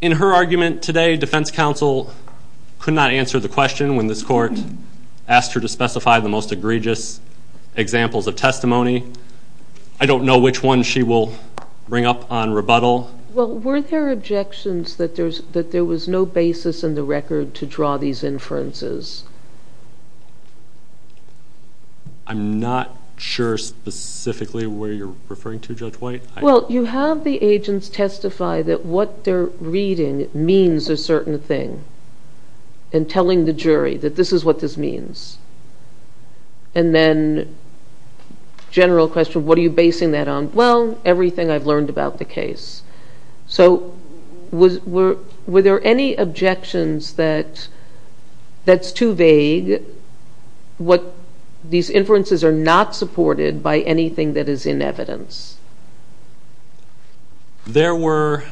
In her argument today, defense counsel could not answer the question when this court asked her to specify the most egregious examples of testimony. I don't know which one she will bring up on rebuttal. Well, were there objections that there was no basis in the record to draw these inferences? I'm not sure specifically where you're referring to, Judge White. Well, you have the agents testify that what they're reading means a certain thing, and telling the jury that this is what this means. And then general question, what are you basing that on? Well, everything I've learned about the case. So were there any objections that that's too vague, what these inferences are not supported by anything that is in evidence? There were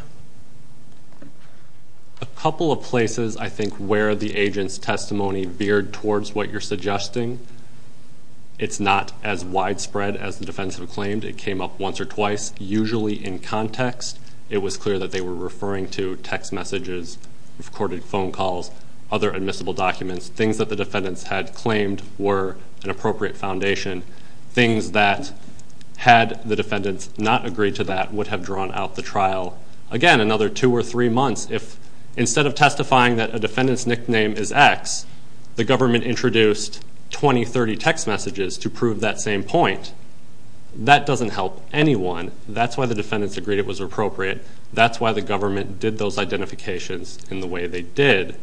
a couple of places, I think, where the agent's testimony veered towards what you're suggesting. It's not as widespread as the defendants have claimed. It came up once or twice. Usually in context, it was clear that they were referring to text messages, recorded phone calls, other admissible documents, things that the defendants had claimed were an appropriate foundation, things that, had the defendants not agreed to that, would have drawn out the trial. Again, another two or three months, if instead of testifying that a defendant's nickname is X, the government introduced 20, 30 text messages to prove that same point, that doesn't help anyone. That's why the defendants agreed it was appropriate. That's why the government did those identifications in the way they did.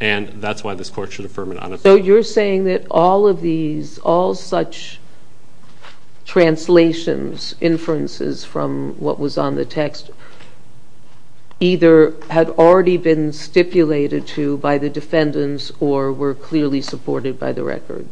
And that's why this court should affirm it unassailable. So you're saying that all of these, all such translations, inferences from what was on the text, either had already been stipulated to by the defendants or were clearly supported by the record.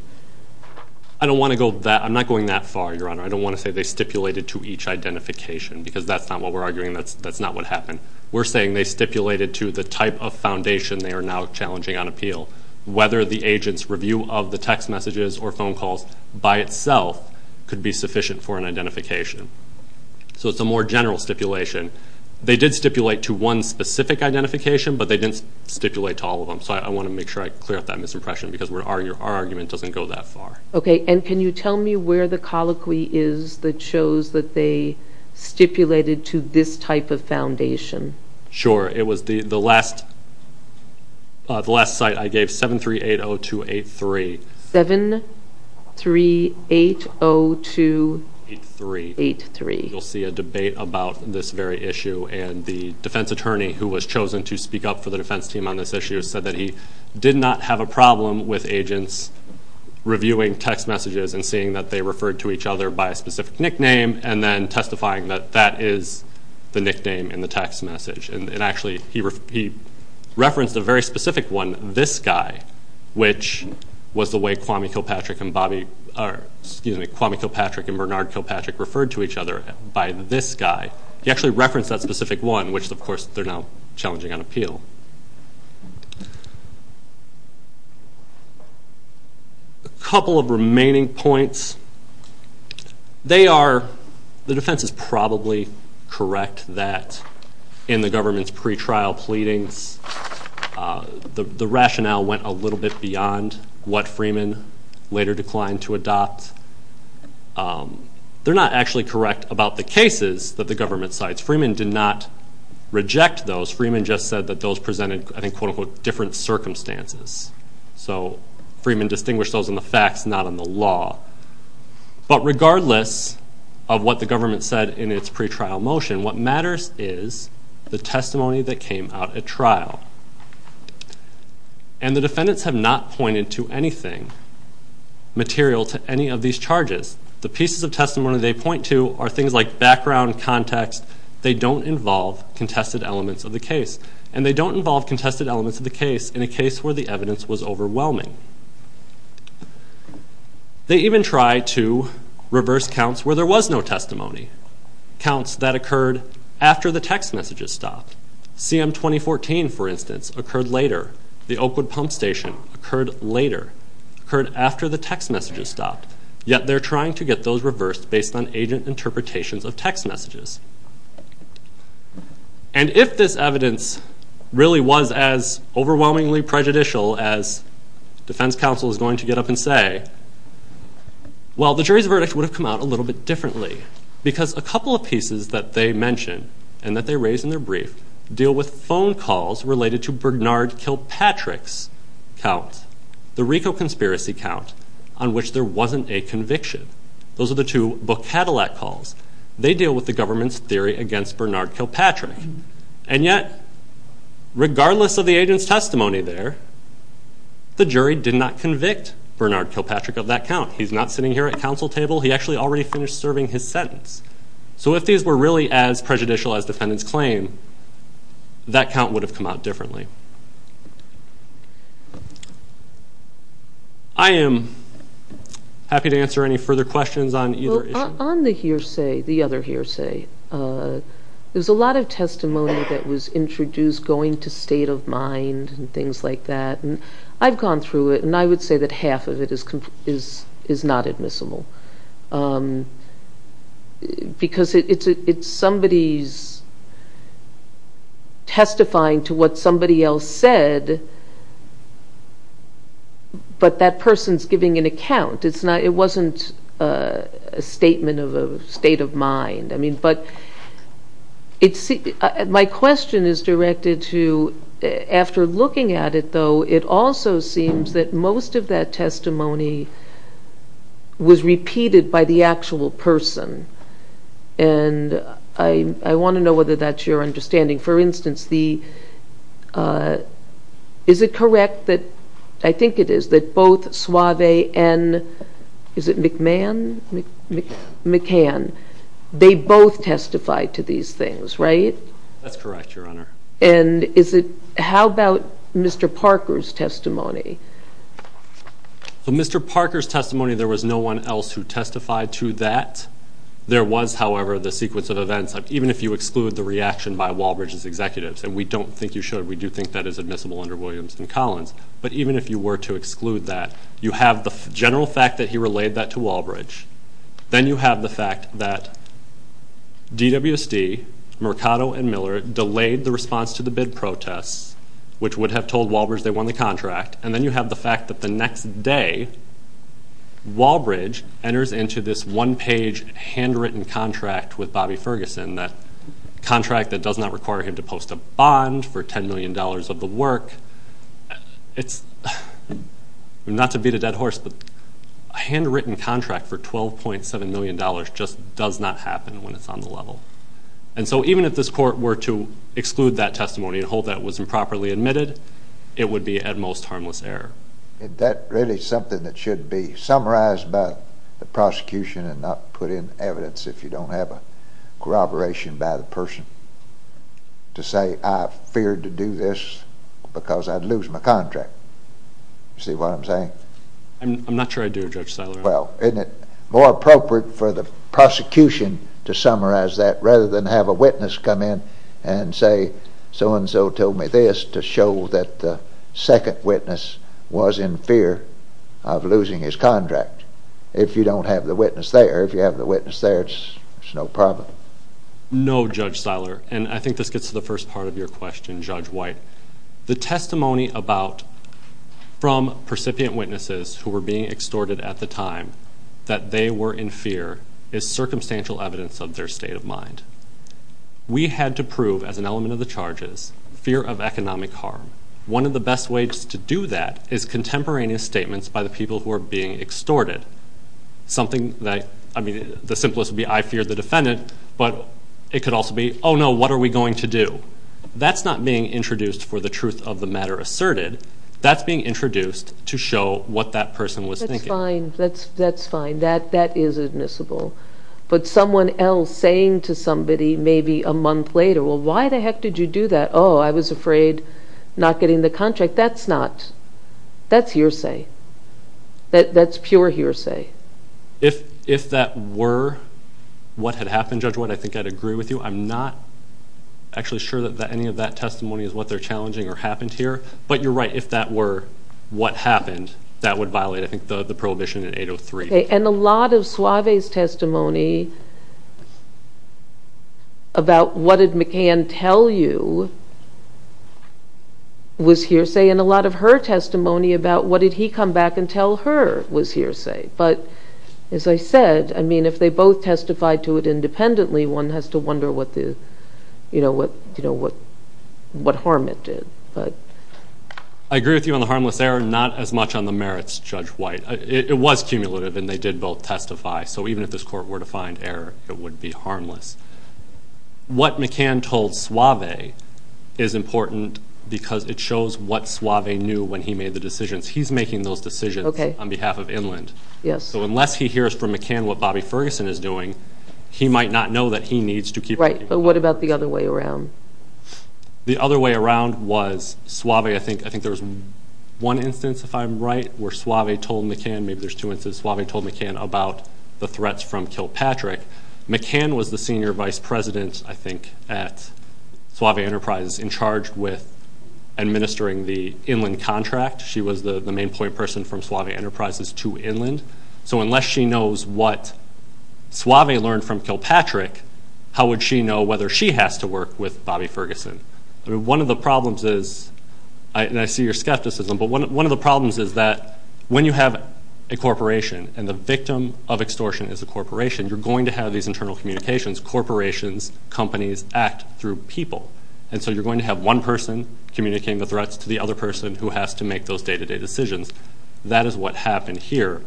I don't want to go that, I'm not going that far, Your Honor. I don't want to say they stipulated to each identification because that's not what we're arguing, that's not what happened. We're saying they stipulated to the type of foundation they are now challenging on appeal, whether the agent's review of the text messages or phone calls by itself could be sufficient for an identification. So it's a more general stipulation. They did stipulate to one specific identification, but they didn't stipulate to all of them. So I want to make sure I clear up that misimpression because our argument doesn't go that far. Okay, and can you tell me where the colloquy is that shows that they stipulated to this type of foundation? Sure, it was the last site I gave, 7380283. 7380283. You'll see a debate about this very issue, and the defense attorney who was chosen to speak up for the defense team on this issue said that he did not have a problem with agents reviewing text messages and seeing that they referred to each other by a specific nickname and then testifying that that is the nickname in the text message. And actually he referenced a very specific one, this guy, which was the way Kwame Kilpatrick and Bernard Kilpatrick referred to each other by this guy. He actually referenced that specific one, which of course they're now challenging on appeal. A couple of remaining points. They are, the defense is probably correct that in the government's pretrial pleadings, the rationale went a little bit beyond what Freeman later declined to adopt. They're not actually correct about the cases that the government cites. Freeman did not reject those. Freeman just said that those presented, I think, quote, unquote, different circumstances. So Freeman distinguished those in the facts, not in the law. But regardless of what the government said in its pretrial motion, what matters is the testimony that came out at trial. And the defendants have not pointed to anything material to any of these charges. The pieces of testimony they point to are things like background, context. They don't involve contested elements of the case. And they don't involve contested elements of the case in a case where the evidence was overwhelming. They even try to reverse counts where there was no testimony. Counts that occurred after the text messages stopped. CM 2014, for instance, occurred later. The Oakwood Pump Station occurred later. Occurred after the text messages stopped. Yet they're trying to get those reversed based on agent interpretations of text messages. And if this evidence really was as overwhelmingly prejudicial as defense counsel is going to get up and say, well, the jury's verdict would have come out a little bit differently. Because a couple of pieces that they mentioned and that they raised in their brief deal with phone calls related to Bernard Kilpatrick's count, the RICO conspiracy count on which there wasn't a conviction. Those are the two book Cadillac calls. They deal with the government's theory against Bernard Kilpatrick. And yet, regardless of the agent's testimony there, the jury did not convict Bernard Kilpatrick of that count. He's not sitting here at counsel table. He actually already finished serving his sentence. So if these were really as prejudicial as defendants claim, that count would have come out differently. I am happy to answer any further questions on either issue. On the hearsay, the other hearsay, there's a lot of testimony that was introduced going to state of mind and things like that. And I've gone through it, and I would say that half of it is not admissible. Because it's somebody's testifying to what somebody else said, but that person's giving an account. It wasn't a statement of a state of mind. My question is directed to, after looking at it, though, it also seems that most of that testimony was repeated by the actual person. And I want to know whether that's your understanding. For instance, is it correct that, I think it is, that both Suave and, is it McMahon, McCann, they both testified to these things, right? That's correct, Your Honor. And is it, how about Mr. Parker's testimony? In Mr. Parker's testimony, there was no one else who testified to that. There was, however, the sequence of events, even if you exclude the reaction by Walbridge's executives, and we don't think you should, we do think that is admissible under Williamston Collins, but even if you were to exclude that, you have the general fact that he relayed that to Walbridge, then you have the fact that DWSD, Mercado, and Miller delayed the response to the bid protest, which would have told Walbridge they won the contract, and then you have the fact that the next day, Walbridge enters into this one-page, handwritten contract with Bobby Ferguson, that contract that does not require him to post a bond for $10 million of the work, not to beat a dead horse, but a handwritten contract for $12.7 million just does not happen when it's on the level. And so even if this court were to exclude that testimony and hold that it was improperly admitted, it would be at most harmless error. Is that really something that should be summarized by the prosecution and not put in evidence if you don't have a corroboration by the person to say, I feared to do this because I'd lose my contract? See what I'm saying? I'm not sure I do, Judge Styler. Well, isn't it more appropriate for the prosecution to summarize that rather than have a witness come in and say, so-and-so told me this to show that the second witness was in fear of losing his contract? If you don't have the witness there, if you have the witness there, it's no problem. No, Judge Styler, and I think this gets to the first part of your question, Judge White. The testimony from percipient witnesses who were being extorted at the time that they were in fear is circumstantial evidence of their state of mind. We had to prove, as an element of the charges, fear of economic harm. One of the best ways to do that is contemporaneous statements by the people who are being extorted, something like, I mean, the simplest would be, I feared the defendant, but it could also be, oh, no, what are we going to do? That's not being introduced for the truth of the matter asserted. That's being introduced to show what that person was thinking. That's fine. That's fine. That is admissible. But someone else saying to somebody maybe a month later, well, why the heck did you do that? Oh, I was afraid not getting the contract. That's not, that's hearsay. That's pure hearsay. If that were what had happened, Judge White, I think I'd agree with you. I'm not actually sure that any of that testimony is what they're challenging or happened here. But you're right, if that were what happened, that would violate, I think, the prohibition in 803. And a lot of Suave's testimony about what did McCann tell you was hearsay. And a lot of her testimony about what did he come back and tell her was hearsay. But as I said, I mean, if they both testified to it independently, one has to wonder what harm it did. I agree with you on the harmless error, not as much on the merits, Judge White. It was cumulative and they did both testify. So even if this Court were to find error, it would be harmless. What McCann told Suave is important because it shows what Suave knew when he made the decisions. He's making those decisions on behalf of Inland. So unless he hears from McCann what Bobby Ferguson is doing, he might not know that he needs to keep... Right, but what about the other way around? The other way around was Suave, I think there's one instance, if I'm right, where Suave told McCann, maybe there's two instances, Suave told McCann about the threats from Kilpatrick. McCann was the senior vice president, I think, at Suave Enterprises in charge with administering the Inland contract. She was the main point person from Suave Enterprises to Inland. So unless she knows what Suave learned from Kilpatrick, how would she know whether she has to work with Bobby Ferguson? One of the problems is, and I see your skepticism, but one of the problems is that when you have a corporation and the victim of extortion is a corporation, you're going to have these internal communications. Corporations, companies act through people. And so you're going to have one person communicating the threats to the other person who has to make those day-to-day decisions. That is what happened here.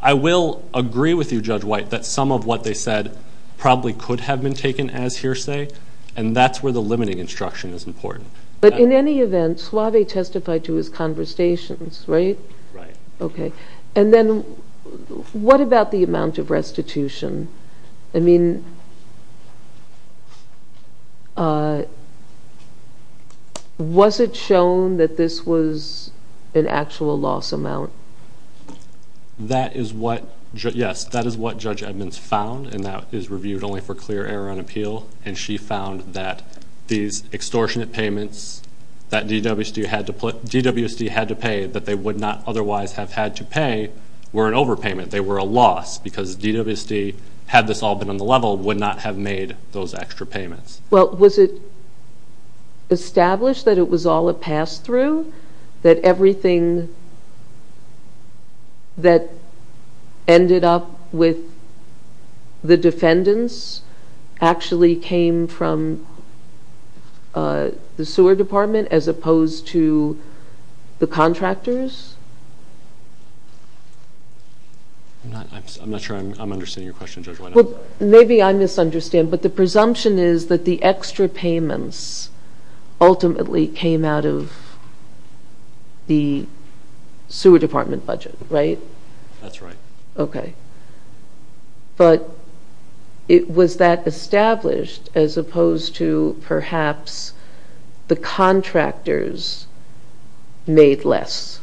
I will agree with you, Judge White, that some of what they said probably could have been taken as hearsay, and that's where the limiting instruction is important. But in any event, Suave testified to his conversations, right? Right. Okay, and then what about the amount of restitution? I mean, was it shown that this was an actual loss amount? Yes, that is what Judge Edmonds found, and that is reviewed only for clear error on appeal. And she found that these extortionate payments that DWC had to pay but they would not otherwise have had to pay were an overpayment. They were a loss because DWC, had this all been on the level, would not have made those extra payments. Well, was it established that it was all a pass-through, that everything that ended up with the defendants actually came from the sewer department as opposed to the contractors? I'm not sure I'm understanding your question, Judge White. Well, maybe I misunderstand, but the presumption is that the extra payments ultimately came out of the sewer department budget, right? That's right. Okay. But was that established as opposed to perhaps the contractors made less?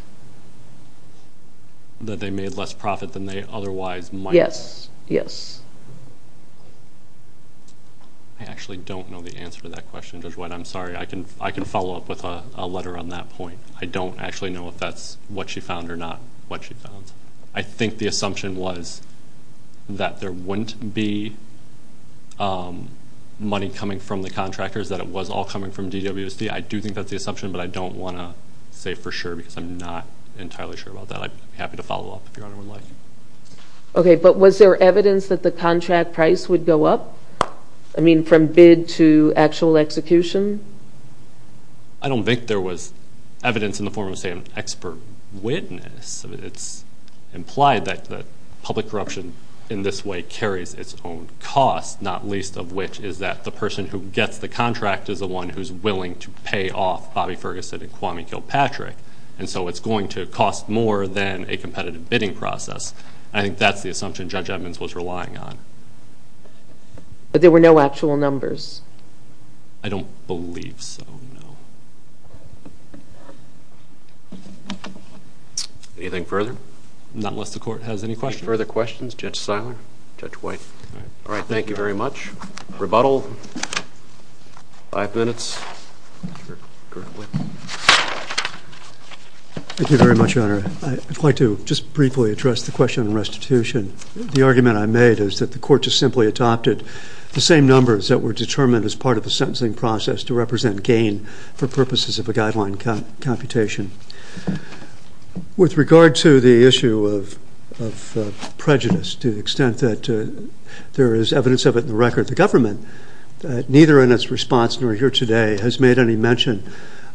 That they made less profit than they otherwise might have? Yes, yes. I actually don't know the answer to that question, Judge White. I'm sorry. I can follow up with a letter on that point. I don't actually know if that's what she found or not what she found. I think the assumption was that there wouldn't be money coming from the contractors, that it was all coming from DWC. I do think that's the assumption, but I don't want to say for sure because I'm not entirely sure about that. I'd be happy to follow up if Your Honor would like. Okay. But was there evidence that the contract price would go up? I mean, from bid to actual execution? I don't think there was evidence in the form of, say, an expert witness. It's implied that public corruption in this way carries its own cost, not least of which is that the person who gets the contract is the one who's willing to pay off Bobby Ferguson and Kwame Kilpatrick, and so it's going to cost more than a competitive bidding process. I think that's the assumption Judge Edmonds was relying on. But there were no actual numbers? I don't believe so, no. Anything further? Not unless the Court has any questions. Further questions? Judge Seiler? Judge White? All right, thank you very much. Rebuttal? Five minutes. Thank you very much, Your Honor. I'd like to just briefly address the question on restitution. The argument I made is that the Court just simply adopted the same numbers that were determined as part of the sentencing process to represent gain for purposes of a guideline computation. With regard to the issue of prejudice, to the extent that there is evidence of it in the record, the government, neither in its response nor here today, has made any mention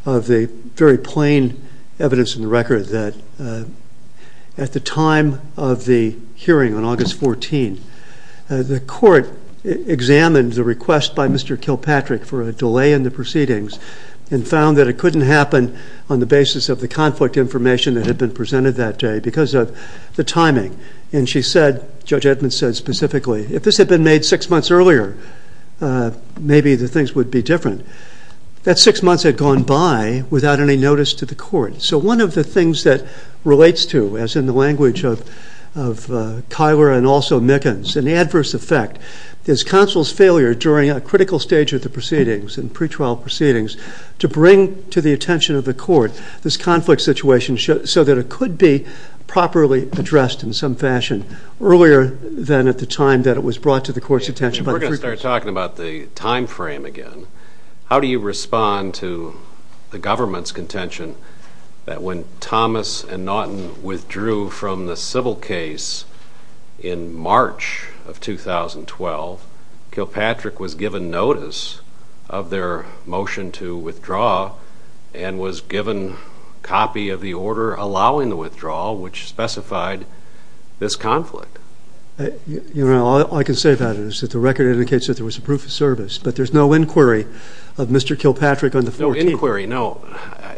of the very plain evidence in the record that at the time of the hearing on August 14, the Court examined the request by Mr. Kilpatrick for a delay in the proceedings and found that it couldn't happen on the basis of the conflict information that had been presented that day because of the timing. And she said, Judge Edmonds said specifically, if this had been made six months earlier, maybe the things would be different. That six months had gone by without any notice to the Court. So one of the things that relates to, as in the language of Tyler and also Mickens, an adverse effect is counsel's failure during a critical stage of the proceedings and pretrial proceedings to bring to the attention of the Court this conflict situation so that it could be properly addressed in some fashion earlier than at the time that it was brought to the Court's attention. We're going to start talking about the time frame again. How do you respond to the government's contention that when Thomas and Naughton withdrew from the civil case in March of 2012, Kilpatrick was given notice of their motion to withdraw and was given a copy of the order allowing the withdrawal which specified this conflict? Your Honor, all I can say about it is that the record indicates that there was a proof of service, but there's no inquiry of Mr. Kilpatrick. No inquiry, no.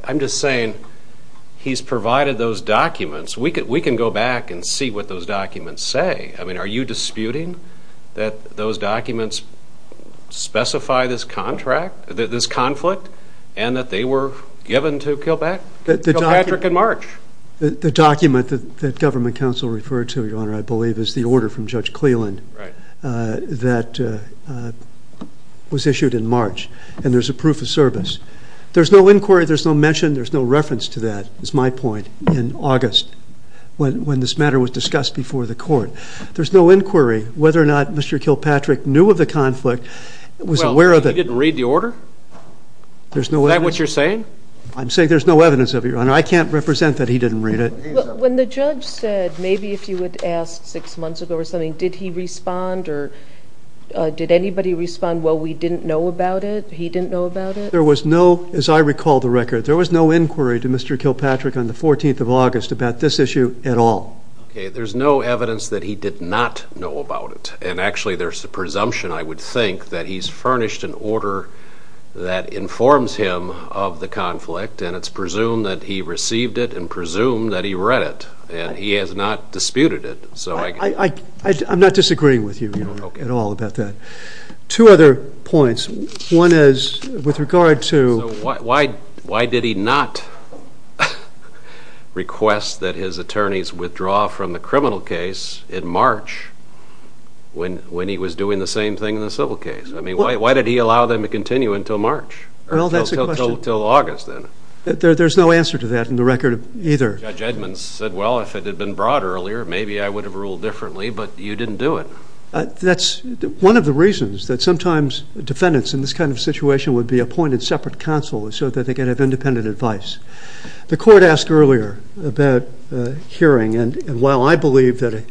I'm just saying he's provided those documents. We can go back and see what those documents say. I mean, are you disputing that those documents specify this conflict and that they were given to Kilpatrick in March? The document that government counsel referred to, Your Honor, I believe is the order from Judge Cleland that was issued in March, and there's a proof of service. There's no inquiry, there's no mention, there's no reference to that, is my point, in August when this matter was discussed before the Court. There's no inquiry whether or not Mr. Kilpatrick knew of the conflict, was aware of it. He didn't read the order? Is that what you're saying? I'm saying there's no evidence of it, Your Honor. I can't represent that he didn't read it. When the judge said, maybe if you would ask six months ago or something, did he respond or did anybody respond, well, we didn't know about it, he didn't know about it? There was no, as I recall the record, there was no inquiry to Mr. Kilpatrick on the 14th of August about this issue at all. There's no evidence that he did not know about it, and actually there's a presumption, I would think, that he's furnished an order that informs him of the conflict, and it's presumed that he received it and presumed that he read it, and he has not disputed it. I'm not disagreeing with you at all about that. Two other points. One is with regard to— Why did he not request that his attorneys withdraw from the criminal case in March when he was doing the same thing in the civil case? I mean, why did he allow them to continue until March, until August then? There's no answer to that in the record either. Judge Edmonds said, well, if it had been brought earlier, maybe I would have ruled differently, but you didn't do it. That's one of the reasons that sometimes defendants in this kind of situation would be appointed separate counsel so that they could have independent advice. The court asked earlier about hearing, and while I believe that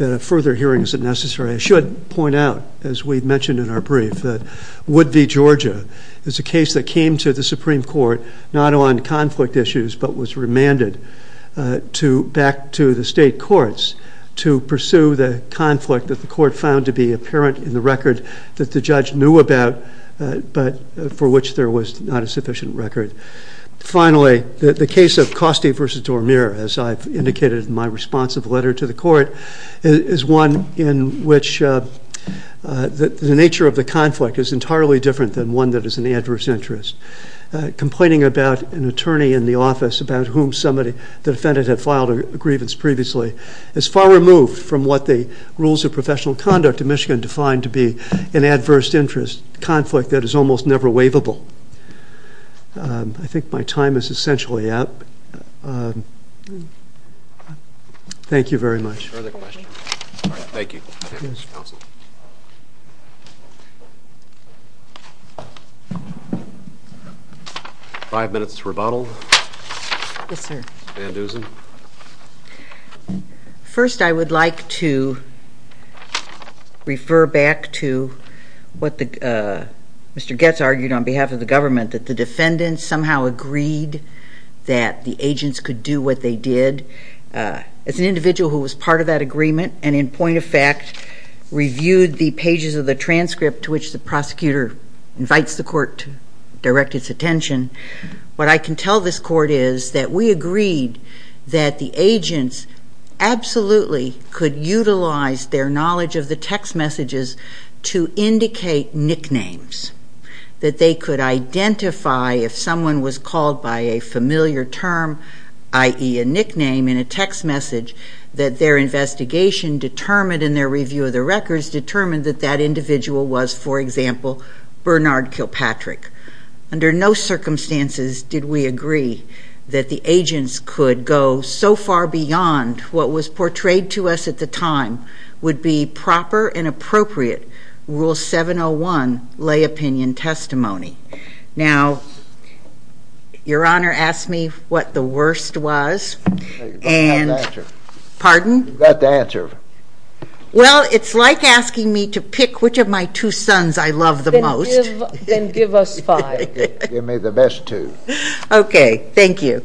a further hearing isn't necessary, I should point out, as we mentioned in our brief, that Wood v. Georgia is a case that came to the Supreme Court not on conflict issues but was remanded back to the state courts to pursue the conflict that the court found to be apparent in the record that the judge knew about but for which there was not a sufficient record. Finally, the case of Costey v. Dormier, as I've indicated in my responsive letter to the court, is one in which the nature of the conflict is entirely different than one that is an adverse interest. Complaining about an attorney in the office about whom somebody, the defendant, had filed a grievance previously is far removed from what the rules of professional conduct in Michigan define to be an adverse interest conflict that is almost never waivable. I think my time is essentially up. Thank you very much. Thank you. Five minutes rebuttal. Yes, sir. Van Dusen. First, I would like to refer back to what Mr. Goetz argued on behalf of the government, that the defendant somehow agreed that the agents could do what they did. As an individual who was part of that agreement and in point of fact reviewed the pages of the transcript to which the prosecutor invites the court to direct its attention, what I can tell this court is that we agreed that the agents absolutely could utilize their knowledge of the text messages to indicate nicknames, that they could identify if someone was called by a familiar term, i.e. a nickname in a text message, that their investigation determined in their review of the records determined that that individual was, for example, Bernard Kilpatrick. Under no circumstances did we agree that the agents could go so far beyond what was portrayed to us at the time would be proper and appropriate Rule 701 lay opinion testimony. Now, Your Honor asked me what the worst was. You've got to answer. Pardon? You've got to answer. Well, it's like asking me to pick which of my two sons I love the most. Then give us five. Give me the best two. Okay, thank you.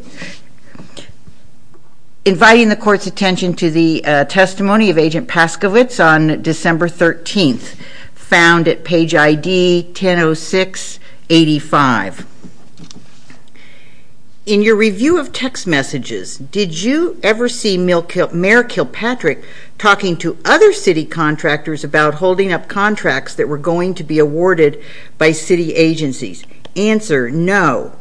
Inviting the court's attention to the testimony of Agent Pascovitz on December 13th, found at page ID 100685. In your review of text messages, did you ever see Mayor Kilpatrick talking to other city contractors about holding up contracts that were going to be awarded by city agencies? Answer, no.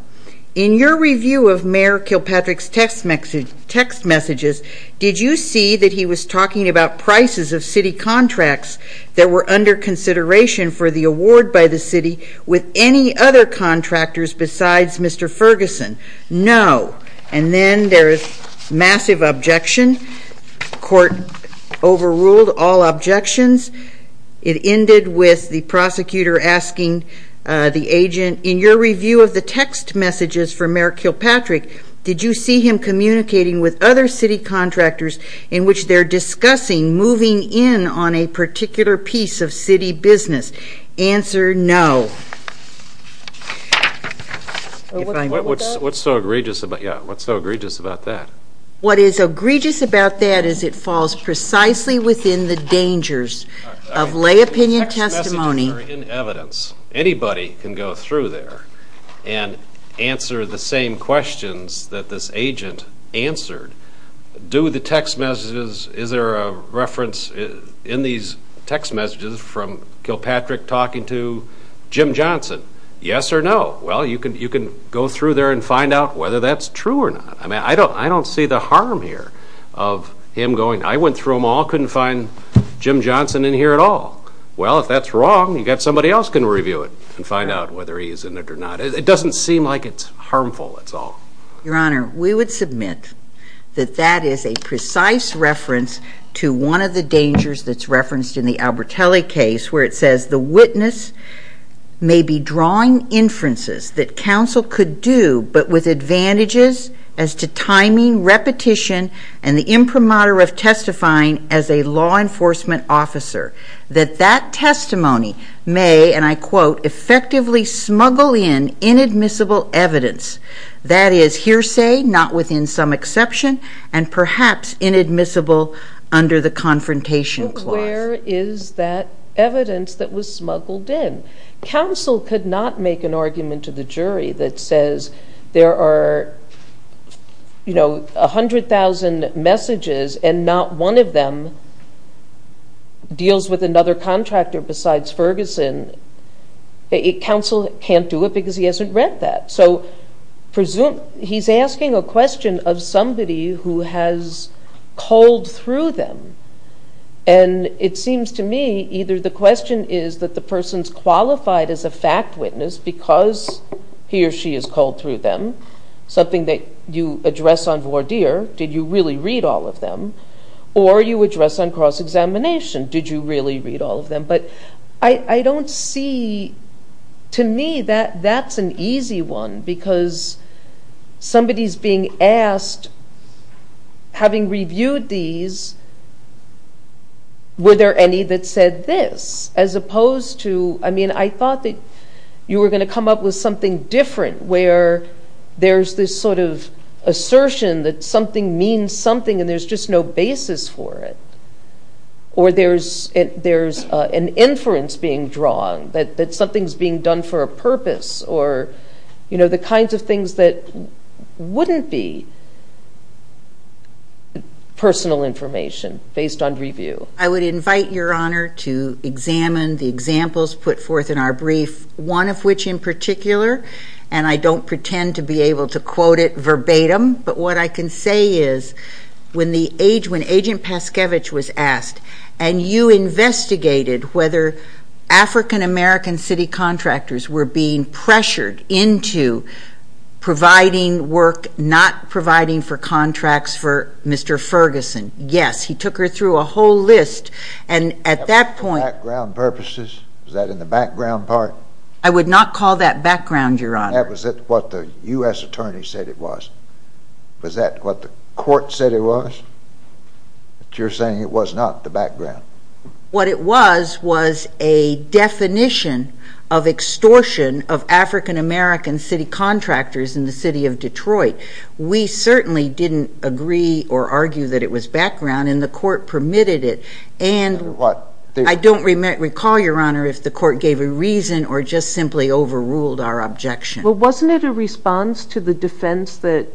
In your review of Mayor Kilpatrick's text messages, did you see that he was talking about prices of city contracts that were under consideration for the award by the city with any other contractors besides Mr. Ferguson? No. And then there is massive objection. Court overruled all objections. It ended with the prosecutor asking the agent, in your review of the text messages for Mayor Kilpatrick, did you see him communicating with other city contractors in which they're discussing moving in on a particular piece of city business? Answer, no. What's so egregious about that? What is egregious about that is it falls precisely within the dangers of lay opinion testimony. Text messages are in evidence. Anybody can go through there and answer the same questions that this agent answered. Do the text messages, is there a reference in these text messages from Kilpatrick talking to Jim Johnson? Yes or no? Well, you can go through there and find out whether that's true or not. I mean, I don't see the harm here of him going, I went through them all, couldn't find Jim Johnson in here at all. Well, if that's wrong, I guess somebody else can review it and find out whether he's in it or not. It doesn't seem like it's harmful at all. Your Honor, we would submit that that is a precise reference to one of the dangers that's referenced in the Albertelli case where it says the witness may be drawing inferences that counsel could do but with advantages as to timing, repetition, and the imprimatur of testifying as a law enforcement officer. That that testimony may, and I quote, effectively smuggle in inadmissible evidence. That is hearsay, not within some exception, and perhaps inadmissible under the confrontation clause. But where is that evidence that was smuggled in? Counsel could not make an argument to the jury that says there are, you know, 100,000 messages and not one of them deals with another contractor besides Ferguson. Counsel can't do it because he hasn't read that. So he's asking a question of somebody who has culled through them. And it seems to me either the question is that the person's qualified as a fact witness because he or she has culled through them, something that you address on voir dire, did you really read all of them? Or you address on cross-examination, did you really read all of them? But I don't see, to me, that that's an easy one because somebody's being asked, having reviewed these, were there any that said this as opposed to, I mean, I thought that you were going to come up with something different where there's this sort of assertion that something means something and there's just no basis for it. Or there's an inference being drawn that something's being done for a purpose or, you know, the kinds of things that wouldn't be personal information based on review. I would invite Your Honor to examine the examples put forth in our brief, one of which in particular, and I don't pretend to be able to quote it verbatim, but what I can say is when Agent Paskevich was asked and you investigated whether African American city contractors were being pressured into providing work not providing for contracts for Mr. Ferguson, yes, he took her through a whole list. Was that for background purposes? Was that in the background part? I would not call that background, Your Honor. That was what the U.S. Attorney said it was. Was that what the court said it was? You're saying it was not the background. What it was was a definition of extortion of African American city contractors in the city of Detroit. We certainly didn't agree or argue that it was background and the court permitted it. And I don't recall, Your Honor, if the court gave a reason or just simply overruled our objection. Well, wasn't it a response to the defense that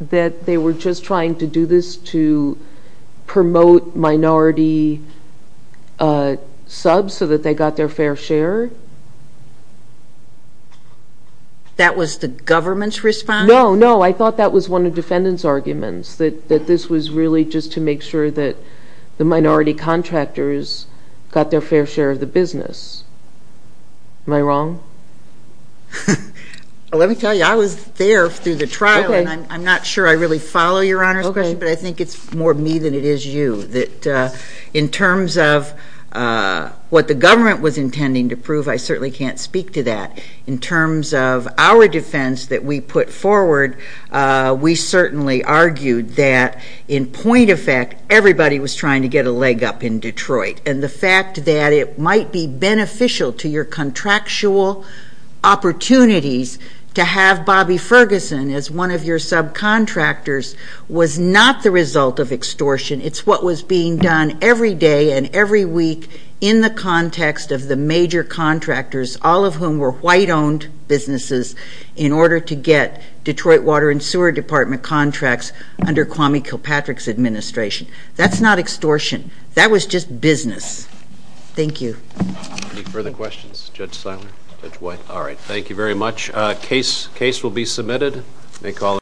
they were just trying to do this to promote minority subs so that they got their fair share? That was the government's response? No, no. I thought that was one of the defendant's arguments, that this was really just to make sure that the minority contractors got their fair share of the business. Am I wrong? Let me tell you, I was there through the trial. I'm not sure I really follow, Your Honor, but I think it's more me than it is you. In terms of what the government was intending to prove, I certainly can't speak to that. In terms of our defense that we put forward, we certainly argued that in point of fact, everybody was trying to get a leg up in Detroit. And the fact that it might be beneficial to your contractual opportunities to have Bobby Ferguson as one of your subcontractors was not the result of extortion. It's what was being done every day and every week in the context of the major contractors, all of whom were white-owned businesses, in order to get Detroit Water and Sewer Department contracts under Kwame Kilpatrick's administration. That's not extortion. That was just business. Thank you. Any further questions? Judge Simon? Judge White? All right. Thank you very much. Case will be submitted.